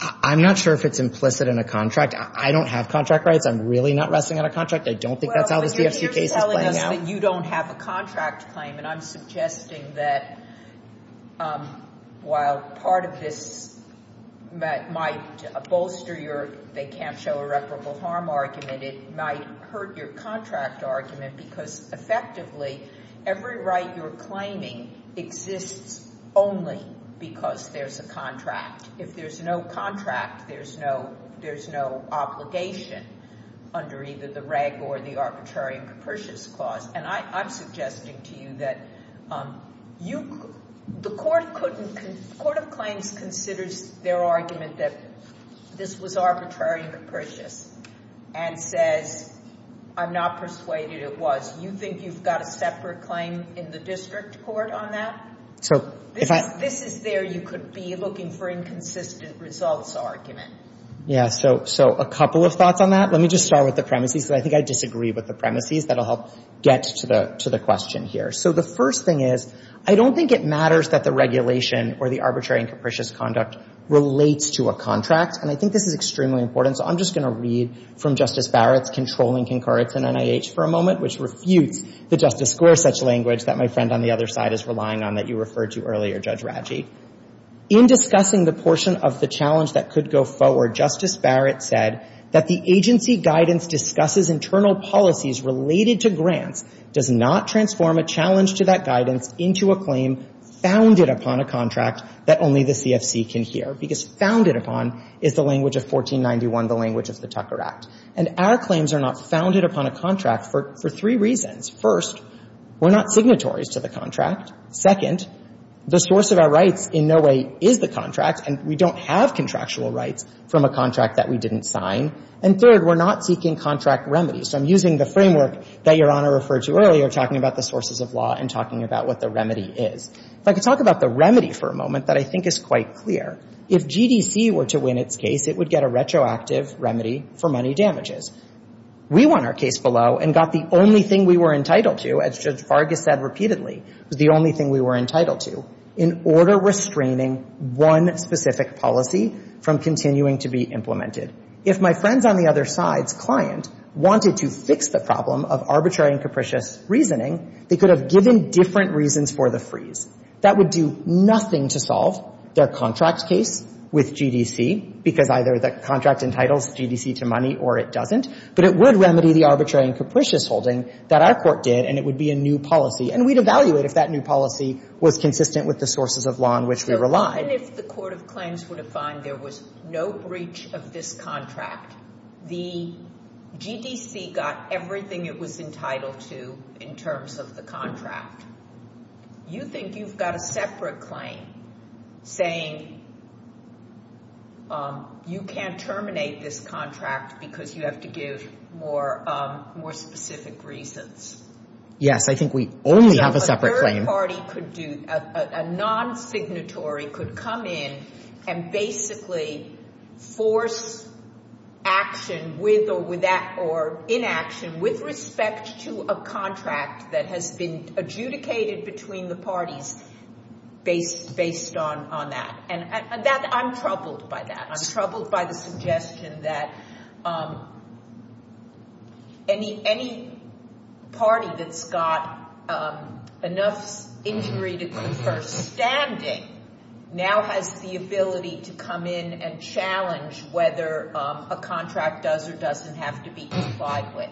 I'm not sure if it's implicit in a contract. I don't have contract rights. I'm really not wrestling on a contract. I don't think that's how this BFC case is playing out. You don't have a contract claim, and I'm suggesting that while part of this might bolster your they can't show irreparable harm argument, it might hurt your contract argument because effectively every right you're claiming exists only because there's a contract. If there's no contract, there's no obligation under either the reg or the clause, and I'm suggesting to you that the court of claims considers their argument that this was arbitrary and capricious and says, I'm not persuaded it was. You think you've got a separate claim in the district court on that? This is there you could be looking for inconsistent results argument. Yeah, so a couple of thoughts on that. Let me just start with the premises because I think I disagree with the question here. So the first thing is, I don't think it matters that the regulation or the arbitrary and capricious conduct relates to a contract, and I think this is extremely important. So I'm just going to read from Justice Barrett's controlling concurrence in NIH for a moment, which refutes the justice score such language that my friend on the other side is relying on that you referred to earlier, Judge Radji. In discussing the portion of the challenge that could go forward, Justice Barrett said that the agency guidance discusses internal policies related to contractual rights. The agency guidance does not transform a challenge to that guidance into a claim founded upon a contract that only the CFC can hear because founded upon is the language of 1491, the language of the Tucker Act. And our claims are not founded upon a contract for three reasons. First, we're not signatories to the contract. Second, the source of our rights in no way is the contract, and we don't have contractual rights from a contract that we didn't sign. And third, we're not seeking contract remedies. So I'm using the framework that Your Honor referred to earlier, talking about the sources of law and talking about what the remedy is. If I could talk about the remedy for a moment that I think is quite clear. If GDC were to win its case, it would get a retroactive remedy for money damages. We won our case below and got the only thing we were entitled to, as Judge Vargas said repeatedly, was the only thing we were entitled to, in order restraining one specific policy from continuing to be implemented. If my friends on the other side's client wanted to fix the problem of arbitrary and capricious reasoning, they could have given different reasons for the freeze. That would do nothing to solve their contract case with GDC, because either the contract entitles GDC to money or it doesn't. But it would remedy the arbitrary and capricious holding that our Court did, and it would be a new policy. And we'd evaluate if that new policy was consistent with the sources of law on which we relied. Even if the Court of Claims were to find there was no breach of this contract, the GDC got everything it was entitled to in terms of the contract. You think you've got a separate claim saying you can't terminate this contract because you have to give more specific reasons. Yes. I think we only have a separate claim. A non-signatory could come in and basically force action with or inaction with respect to a contract that has been adjudicated between the parties based on that. I'm troubled by that. I'm troubled by the suggestion that any party that's got enough injury to confer standing now has the ability to come in and challenge whether a contract does or doesn't have to be complied with.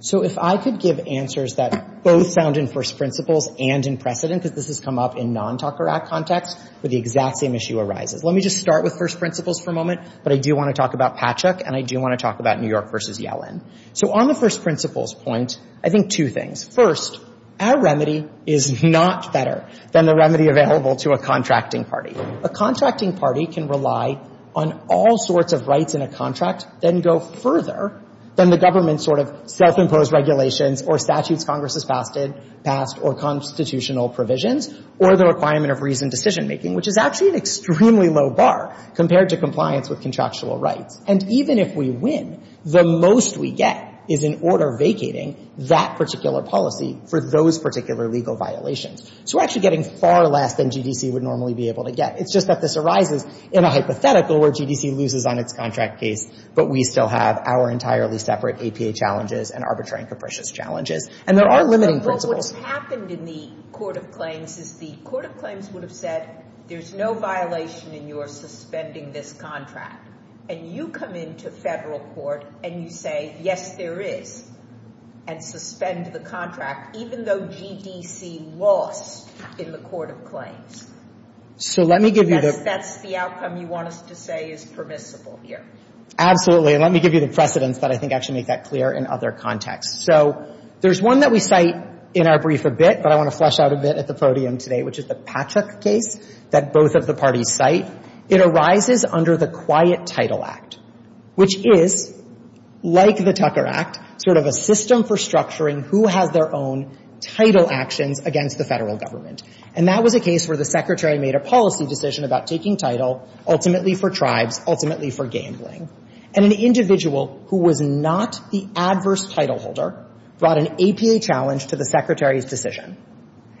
So if I could give answers that both sound in first principles and in precedent, because this has come up in non-Tucker Act context, where the exact same issue arises. Let me just start with first principles for a moment, but I do want to talk about Patchuk, and I do want to talk about New York v. Yellen. So on the first principles point, I think two things. First, our remedy is not better than the remedy available to a contracting party. A contracting party can rely on all sorts of rights in a contract, then go further than the government's sort of self-imposed regulations or statutes Congress has passed or constitutional provisions or the requirement of reasoned decision-making, which is actually an extremely low bar compared to compliance with contractual rights. And even if we win, the most we get is an order vacating that particular policy for those particular legal violations. So we're actually getting far less than GDC would normally be able to get. It's just that this arises in a hypothetical where GDC loses on its contract case, but we still have our entirely separate APA challenges and arbitrary and capricious challenges. And there are limiting principles. What happened in the Court of Claims is the Court of Claims would have said, there's no violation in your suspending this contract. And you come into federal court and you say, yes, there is, and suspend the contract, even though GDC lost in the Court of Claims. So let me give you the — Yes, that's the outcome you want us to say is permissible here. Absolutely. And let me give you the precedents that I think actually make that clear in other contexts. So there's one that we cite in our brief a bit, but I want to flesh out a bit at the podium today, which is the Patrick case that both of the parties cite. It arises under the Quiet Title Act, which is, like the Tucker Act, sort of a system for structuring who has their own title actions against the federal government. And that was a case where the Secretary made a policy decision about taking title ultimately for tribes, ultimately for gambling. And an individual who was not the adverse title holder brought an APA challenge to the Secretary's decision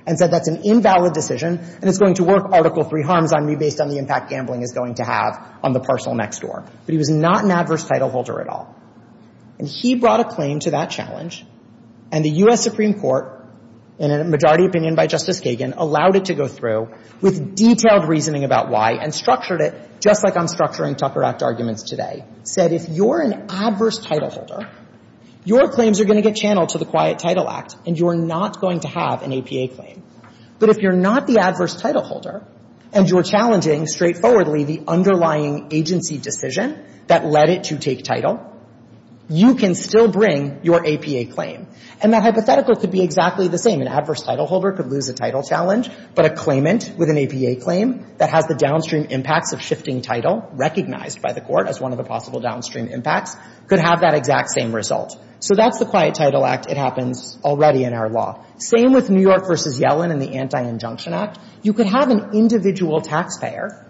and said, that's an invalid decision, and it's going to work Article III harms on me based on the impact gambling is going to have on the parcel next door. But he was not an adverse title holder at all. And he brought a claim to that challenge, and the U.S. Supreme Court, in a majority opinion by Justice Kagan, allowed it to go through with detailed reasoning about why, and structured it, just like I'm structuring Tucker Act arguments today, said, if you're an adverse title holder, your claims are going to get channeled to the Quiet Title Act, and you are not going to have an APA claim. But if you're not the adverse title holder, and you're challenging straightforwardly the underlying agency decision that led it to take title, you can still bring your APA claim. And that hypothetical could be exactly the same. An adverse title holder could lose a title challenge, but a claimant with an APA claim that has the downstream impacts of shifting title, recognized by the Court as one of the possible downstream impacts, could have that exact same result. So that's the Quiet Title Act. It happens already in our law. Same with New York v. Yellen and the Anti-Injunction Act. You could have an individual taxpayer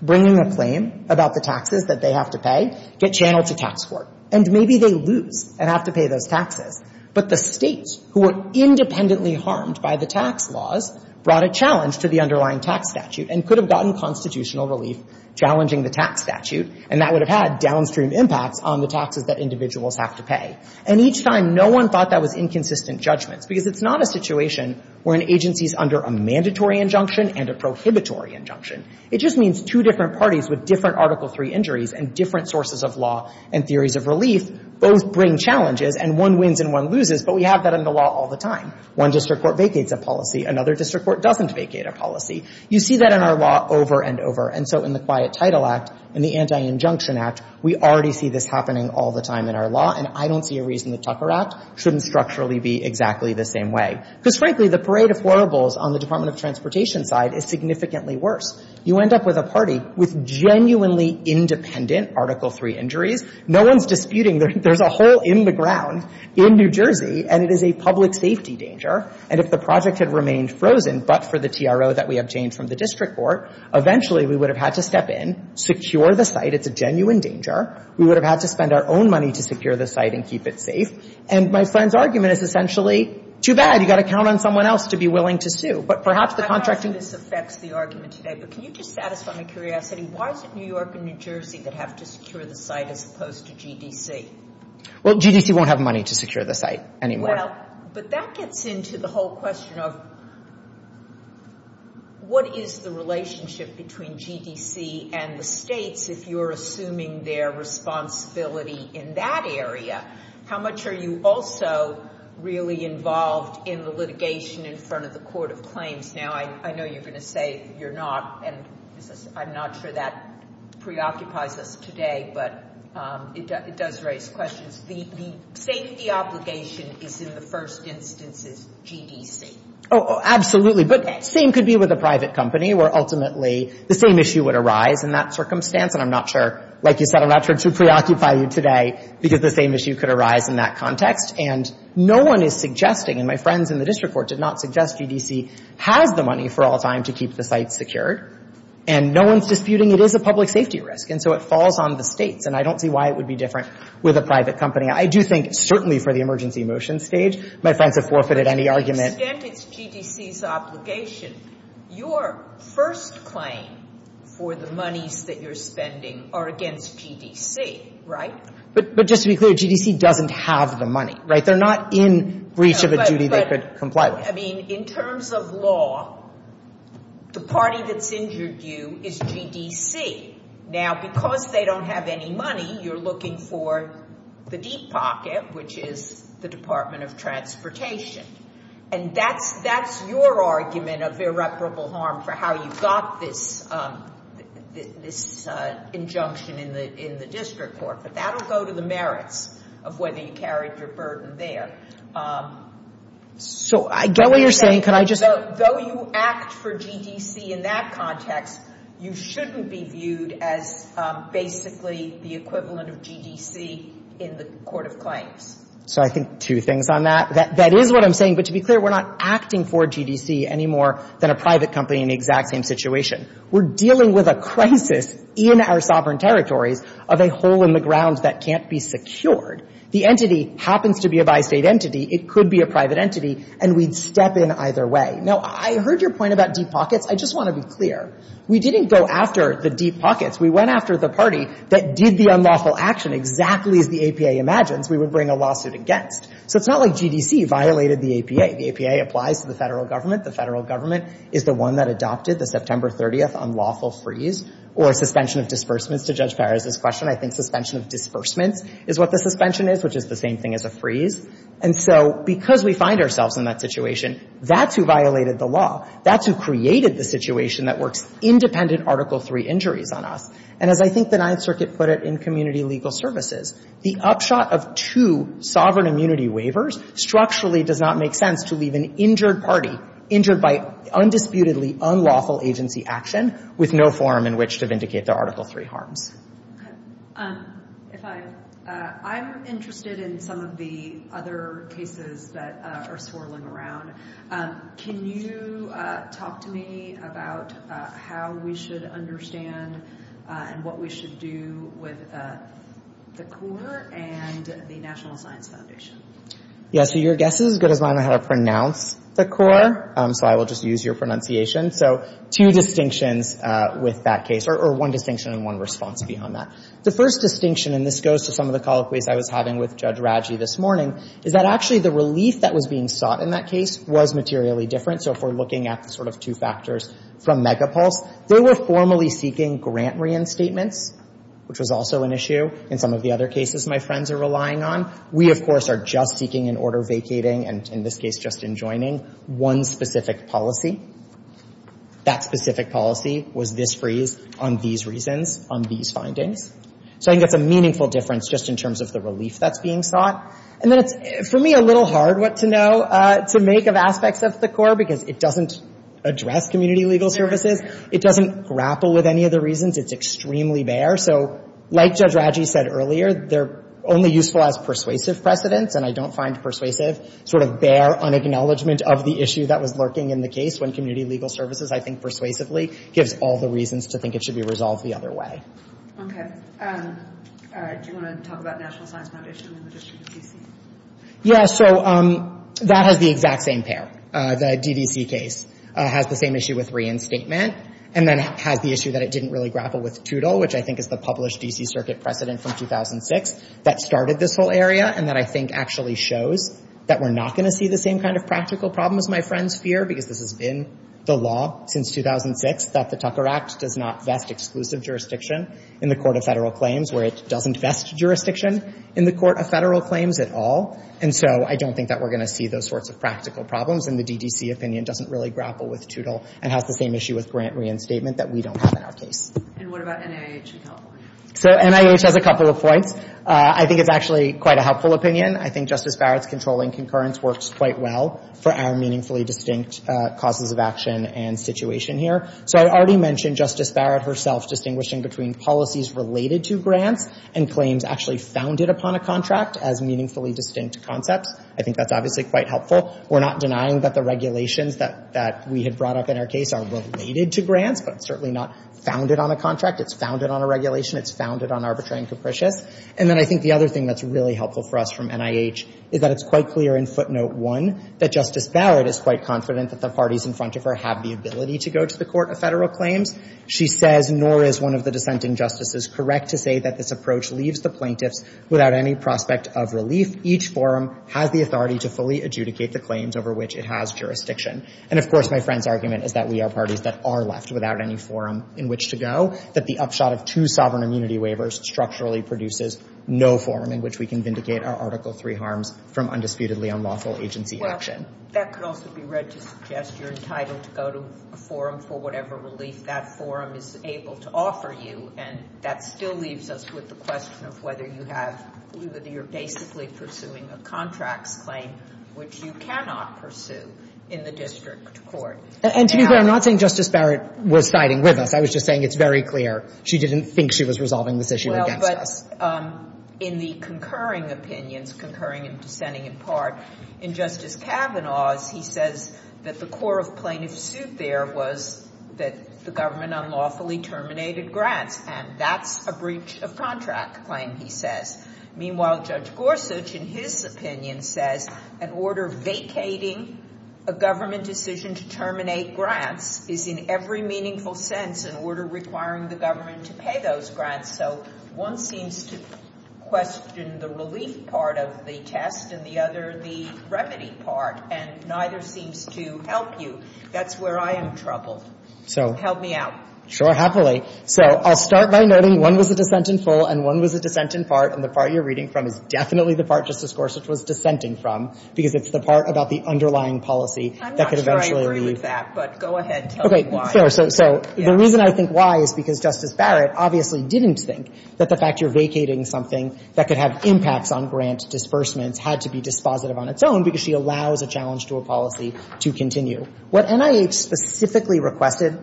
bringing a claim about the taxes that they have to pay get channeled to tax court. And maybe they lose and have to pay those taxes. But the States, who were independently harmed by the tax laws, brought a challenge to the underlying tax statute and could have gotten constitutional relief challenging the tax statute. And that would have had downstream impacts on the taxes that individuals have to pay. And each time, no one thought that was inconsistent judgments, because it's not a situation where an agency is under a mandatory injunction and a prohibitory injunction. It just means two different parties with different Article III injuries and different sources of law and theories of relief both bring challenges, and one wins and one loses. But we have that in the law all the time. One district court vacates a policy. Another district court doesn't vacate a policy. You see that in our law over and over. And so in the Quiet Title Act, in the Anti-Injunction Act, we already see this happening all the time in our law. And I don't see a reason the Tucker Act shouldn't structurally be exactly the same way. Because, frankly, the parade of horribles on the Department of Transportation side is significantly worse. You end up with a party with genuinely independent Article III injuries. No one's disputing there's a hole in the ground in New Jersey, and it is a public safety danger. And if the project had remained frozen but for the TRO that we obtained from the district court, eventually we would have had to step in, secure the site. It's a genuine danger. We would have had to spend our own money to secure the site and keep it safe. And my friend's argument is essentially, too bad. You've got to count on someone else to be willing to sue. But perhaps the contracting — I don't know if this affects the argument today, but can you just satisfy my curiosity? Why is it New York and New Jersey that have to secure the site as opposed to GDC? Well, GDC won't have money to secure the site anymore. Well, but that gets into the whole question of what is the relationship between GDC and the states if you're assuming their responsibility in that area? How much are you also really involved in the litigation in front of the Court of Claims? Now, I know you're going to say you're not, and I'm not sure that preoccupies us today, but it does raise questions. The safety obligation is in the first instance is GDC. Oh, absolutely. But same could be with a private company where ultimately the same issue would arise in that circumstance. And I'm not sure, like you said, I'm not sure it should preoccupy you today because the same issue could arise in that context. And no one is suggesting, and my friends in the district court did not suggest, GDC has the money for all time to keep the site secured, and no one's disputing it is a public safety risk. And so it falls on the states. And I don't see why it would be different with a private company. I do think certainly for the emergency motion stage, my friends have forfeited any argument. But to the extent it's GDC's obligation, your first claim for the monies that you're spending are against GDC, right? But just to be clear, GDC doesn't have the money, right? They're not in breach of a duty they could comply with. I mean, in terms of law, the party that's injured you is GDC. Now, because they don't have any money, you're looking for the deep pocket, which is the Department of Transportation. And that's your argument of irreparable harm for how you got this injunction in the district court. But that will go to the merits of whether you carried your burden there. So I get what you're saying. Can I just — So though you act for GDC in that context, you shouldn't be viewed as basically the equivalent of GDC in the court of claims. So I think two things on that. That is what I'm saying. But to be clear, we're not acting for GDC any more than a private company in the exact same situation. We're dealing with a crisis in our sovereign territories of a hole in the ground that can't be secured. The entity happens to be a bi-State entity. It could be a private entity, and we'd step in either way. Now, I heard your point about deep pockets. I just want to be clear. We didn't go after the deep pockets. We went after the party that did the unlawful action exactly as the APA imagines we would bring a lawsuit against. So it's not like GDC violated the APA. The APA applies to the Federal Government. The Federal Government is the one that adopted the September 30th unlawful freeze or suspension of disbursements, to Judge Perez's question. I think suspension of disbursements is what the suspension is, which is the same thing as a freeze. And so because we find ourselves in that situation, that's who violated the law. That's who created the situation that works independent Article III injuries on us. And as I think the Ninth Circuit put it in community legal services, the upshot of two sovereign immunity waivers structurally does not make sense to leave an injured party, injured by undisputedly unlawful agency action, with no forum in which to vindicate the Article III harms. I'm interested in some of the other cases that are swirling around. Can you talk to me about how we should understand and what we should do with the Corps and the National Science Foundation? Yeah, so your guess is as good as mine on how to pronounce the Corps, so I will just use your pronunciation. So two distinctions with that case, or one distinction and one response beyond that. The first distinction, and this goes to some of the colloquies I was having with Judge Raggi this morning, is that actually the relief that was being sought in that case was materially different. So if we're looking at the sort of two factors from Megapulse, they were formally seeking grant reinstatements, which was also an issue in some of the other cases my friends are relying on. We, of course, are just seeking an order vacating, and in this case just enjoining one specific policy. That specific policy was this freeze on these reasons, on these findings. So I think that's a meaningful difference just in terms of the relief that's being sought. And then it's, for me, a little hard what to know to make of aspects of the Corps, because it doesn't address community legal services. It doesn't grapple with any of the reasons. It's extremely bare. So like Judge Raggi said earlier, they're only useful as persuasive precedents, and I don't find persuasive sort of bare on acknowledgement of the issue that was lurking in the case when community legal services, I think persuasively, gives all the reasons to think it should be resolved the other way. Okay. Do you want to talk about National Science Foundation and the District of D.C.? Yeah, so that has the exact same pair. The D.D.C. case has the same issue with reinstatement, and then has the issue that it didn't really grapple with TUDL, which I think is the published D.C. Circuit precedent from 2006 that started this whole area, and that I think actually shows that we're not going to see the same kind of practical problems, my friends fear, because this has been the law since 2006, that the Tucker Act does not vest exclusive jurisdiction in the Court of Federal Claims, where it doesn't vest jurisdiction in the Court of Federal Claims at all. And so I don't think that we're going to see those sorts of practical problems, and the D.D.C. opinion doesn't really grapple with TUDL, and has the same issue with grant reinstatement that we don't have in our case. And what about NIH in California? So NIH has a couple of points. I think it's actually quite a helpful opinion. I think Justice Barrett's controlling concurrence works quite well for our meaningfully distinct causes of action and situation here. So I already mentioned Justice Barrett herself distinguishing between policies related to grants and claims actually founded upon a contract as meaningfully distinct concepts. I think that's obviously quite helpful. We're not denying that the regulations that we had brought up in our case are related to grants, but certainly not founded on a contract. It's founded on a regulation. It's founded on arbitrary and capricious. And then I think the other thing that's really helpful for us from NIH is that it's quite clear in footnote one that Justice Barrett is quite confident that the parties in front of her have the ability to go to the Court of Federal Claims. She says, nor is one of the dissenting justices correct to say that this approach leaves the plaintiffs without any prospect of relief. Each forum has the authority to fully adjudicate the claims over which it has jurisdiction. And, of course, my friend's argument is that we are parties that are left without any forum in which to go, that the upshot of two sovereign immunity waivers structurally produces no forum in which we can vindicate our Article III harms from undisputedly unlawful agency action. Well, that could also be read to suggest you're entitled to go to a forum for whatever relief that forum is able to offer you. And that still leaves us with the question of whether you're basically pursuing a contracts claim, which you cannot pursue in the district court. And to be fair, I'm not saying Justice Barrett was siding with us. I was just saying it's very clear she didn't think she was resolving this issue against us. Well, but in the concurring opinions, concurring and dissenting in part, in Justice Kavanaugh's he says that the core of plaintiff's suit there was that the government unlawfully terminated grants, and that's a breach of contract claim, he says. Meanwhile, Judge Gorsuch, in his opinion, says an order vacating a government decision to terminate grants is in every meaningful sense an order requiring the government to pay those grants. So one seems to question the relief part of the test and the other the remedy part, and neither seems to help you. That's where I am troubled. Help me out. Sure, happily. So I'll start by noting one was a dissent in full and one was a dissent in part, and the part you're reading from is definitely the part Justice Gorsuch was dissenting from because it's the part about the underlying policy that could eventually leave. I'm not sure I agree with that, but go ahead, tell me why. Okay, sure. So the reason I think why is because Justice Barrett obviously didn't think that the fact you're vacating something that could have impacts on grant disbursements had to be dispositive on its own because she allows a challenge to a policy to continue. What NIH specifically requested,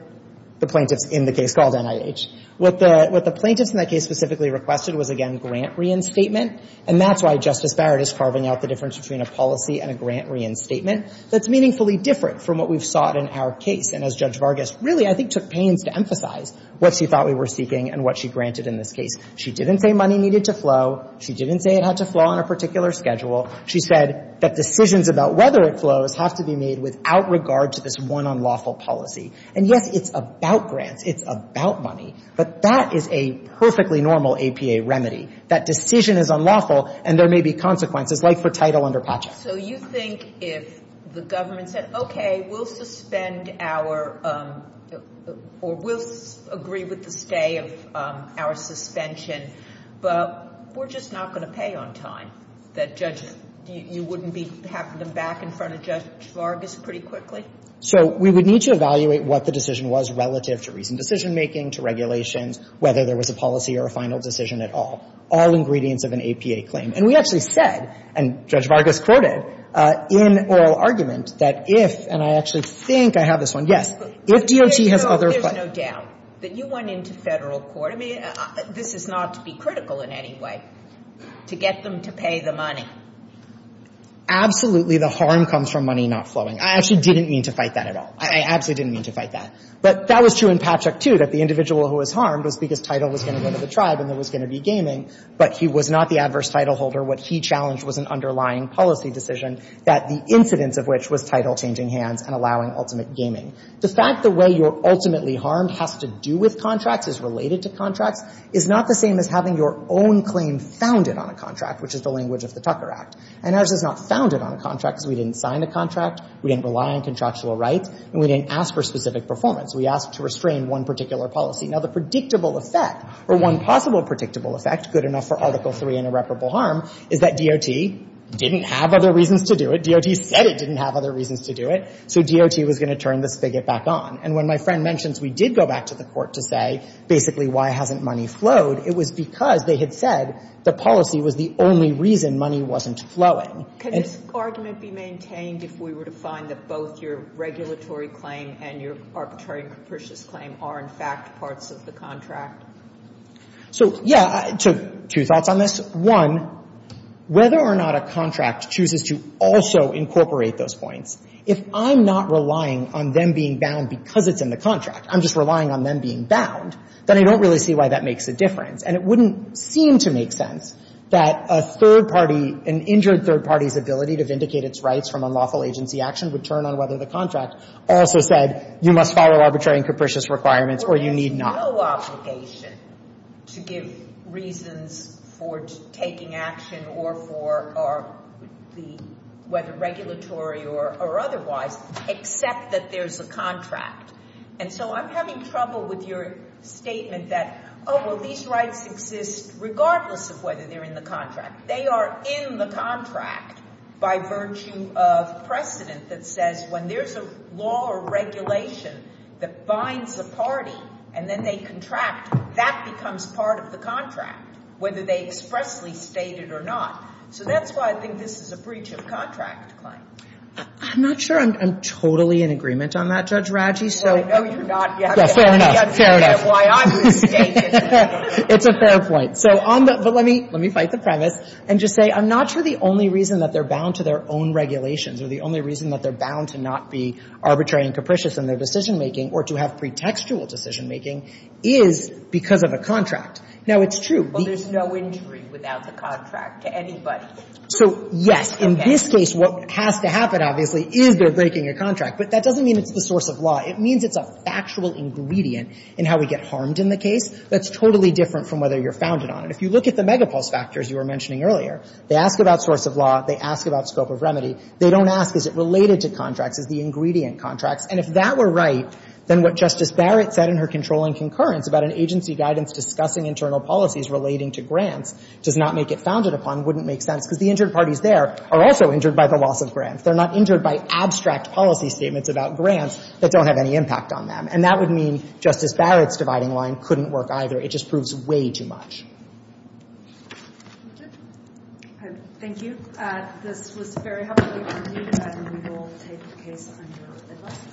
the plaintiffs in the case called NIH, what the plaintiffs in that case specifically requested was, again, grant reinstatement, and that's why Justice Barrett is carving out the difference between a policy and a grant reinstatement that's meaningfully different from what we've sought in our case. And as Judge Vargas really, I think, took pains to emphasize what she thought we were seeking and what she granted in this case. She didn't say money needed to flow. She didn't say it had to flow on a particular schedule. She said that decisions about whether it flows have to be made without regard to this one unlawful policy. And, yes, it's about grants. It's about money. But that is a perfectly normal APA remedy. That decision is unlawful, and there may be consequences, like for title under PACHA. So you think if the government said, okay, we'll suspend our, or we'll agree with the stay of our suspension, but we're just not going to pay on time, that you wouldn't be having them back in front of Judge Vargas pretty quickly? So we would need to evaluate what the decision was relative to recent decision-making, to regulations, whether there was a policy or a final decision at all, all ingredients of an APA claim. And we actually said, and Judge Vargas quoted, in oral argument, that if, and I actually think I have this one, yes, if DOT has other... But there's no doubt that you went into Federal court. I mean, this is not to be critical in any way, to get them to pay the money. Absolutely, the harm comes from money not flowing. I actually didn't mean to fight that at all. I absolutely didn't mean to fight that. But that was true in PACHA too, that the individual who was harmed was because title was going to go to the tribe and there was going to be gaming. But he was not the adverse title holder. What he challenged was an underlying policy decision that the incidence of which was title changing hands and allowing ultimate gaming. The fact the way you're ultimately harmed has to do with contracts, is related to contracts, is not the same as having your own claim founded on a contract, which is the language of the Tucker Act. And ours is not founded on a contract because we didn't sign a contract, we didn't rely on contractual rights, and we didn't ask for specific performance. We asked to restrain one particular policy. Now, the predictable effect, or one possible predictable effect, good enough for Article III and irreparable harm, is that DOT didn't have other reasons to do it. DOT said it didn't have other reasons to do it. So DOT was going to turn the spigot back on. And when my friend mentions we did go back to the court to say, basically, why hasn't money flowed, it was because they had said the policy was the only reason money wasn't flowing. Could this argument be maintained if we were to find that both your regulatory claim and your arbitrary and capricious claim are, in fact, parts of the contract? So, yeah, I took two thoughts on this. One, whether or not a contract chooses to also incorporate those points, if I'm not relying on them being bound because it's in the contract, I'm just relying on them being bound, then I don't really see why that makes a difference. And it wouldn't seem to make sense that a third party, an injured third party's ability to vindicate its rights from unlawful agency action would turn on whether the contract also said you must follow arbitrary and capricious requirements or you need not. But there's no obligation to give reasons for taking action or for the, whether regulatory or otherwise, except that there's a contract. And so I'm having trouble with your statement that, oh, well, these rights exist regardless of whether they're in the contract. They are in the contract by virtue of precedent that says when there's a law or regulation that binds a party and then they contract, that becomes part of the contract, whether they expressly state it or not. So that's why I think this is a breach of contract claim. I'm not sure I'm totally in agreement on that, Judge Raggi. Well, I know you're not yet. Fair enough. Fair enough. That's why I'm mistaken. It's a fair point. But let me fight the premise and just say I'm not sure the only reason that they're bound to their own regulations or the only reason that they're bound to not be arbitrary and capricious in their decision-making or to have pretextual decision-making is because of a contract. Now, it's true. Well, there's no injury without the contract to anybody. So, yes, in this case, what has to happen, obviously, is they're breaking a contract. But that doesn't mean it's the source of law. It means it's a factual ingredient in how we get harmed in the case that's totally different from whether you're founded on it. If you look at the megapulse factors you were mentioning earlier, they ask about source of law. They ask about scope of remedy. They don't ask is it related to contracts, is the ingredient contracts. And if that were right, then what Justice Barrett said in her controlling concurrence about an agency guidance discussing internal policies relating to grants does not make it founded upon wouldn't make sense because the injured parties there are also injured by the loss of grants. They're not injured by abstract policy statements about grants that don't have any impact on them. And that would mean Justice Barrett's dividing line couldn't work either. It just proves way too much. Thank you. This was very helpful. We will take the case under advice.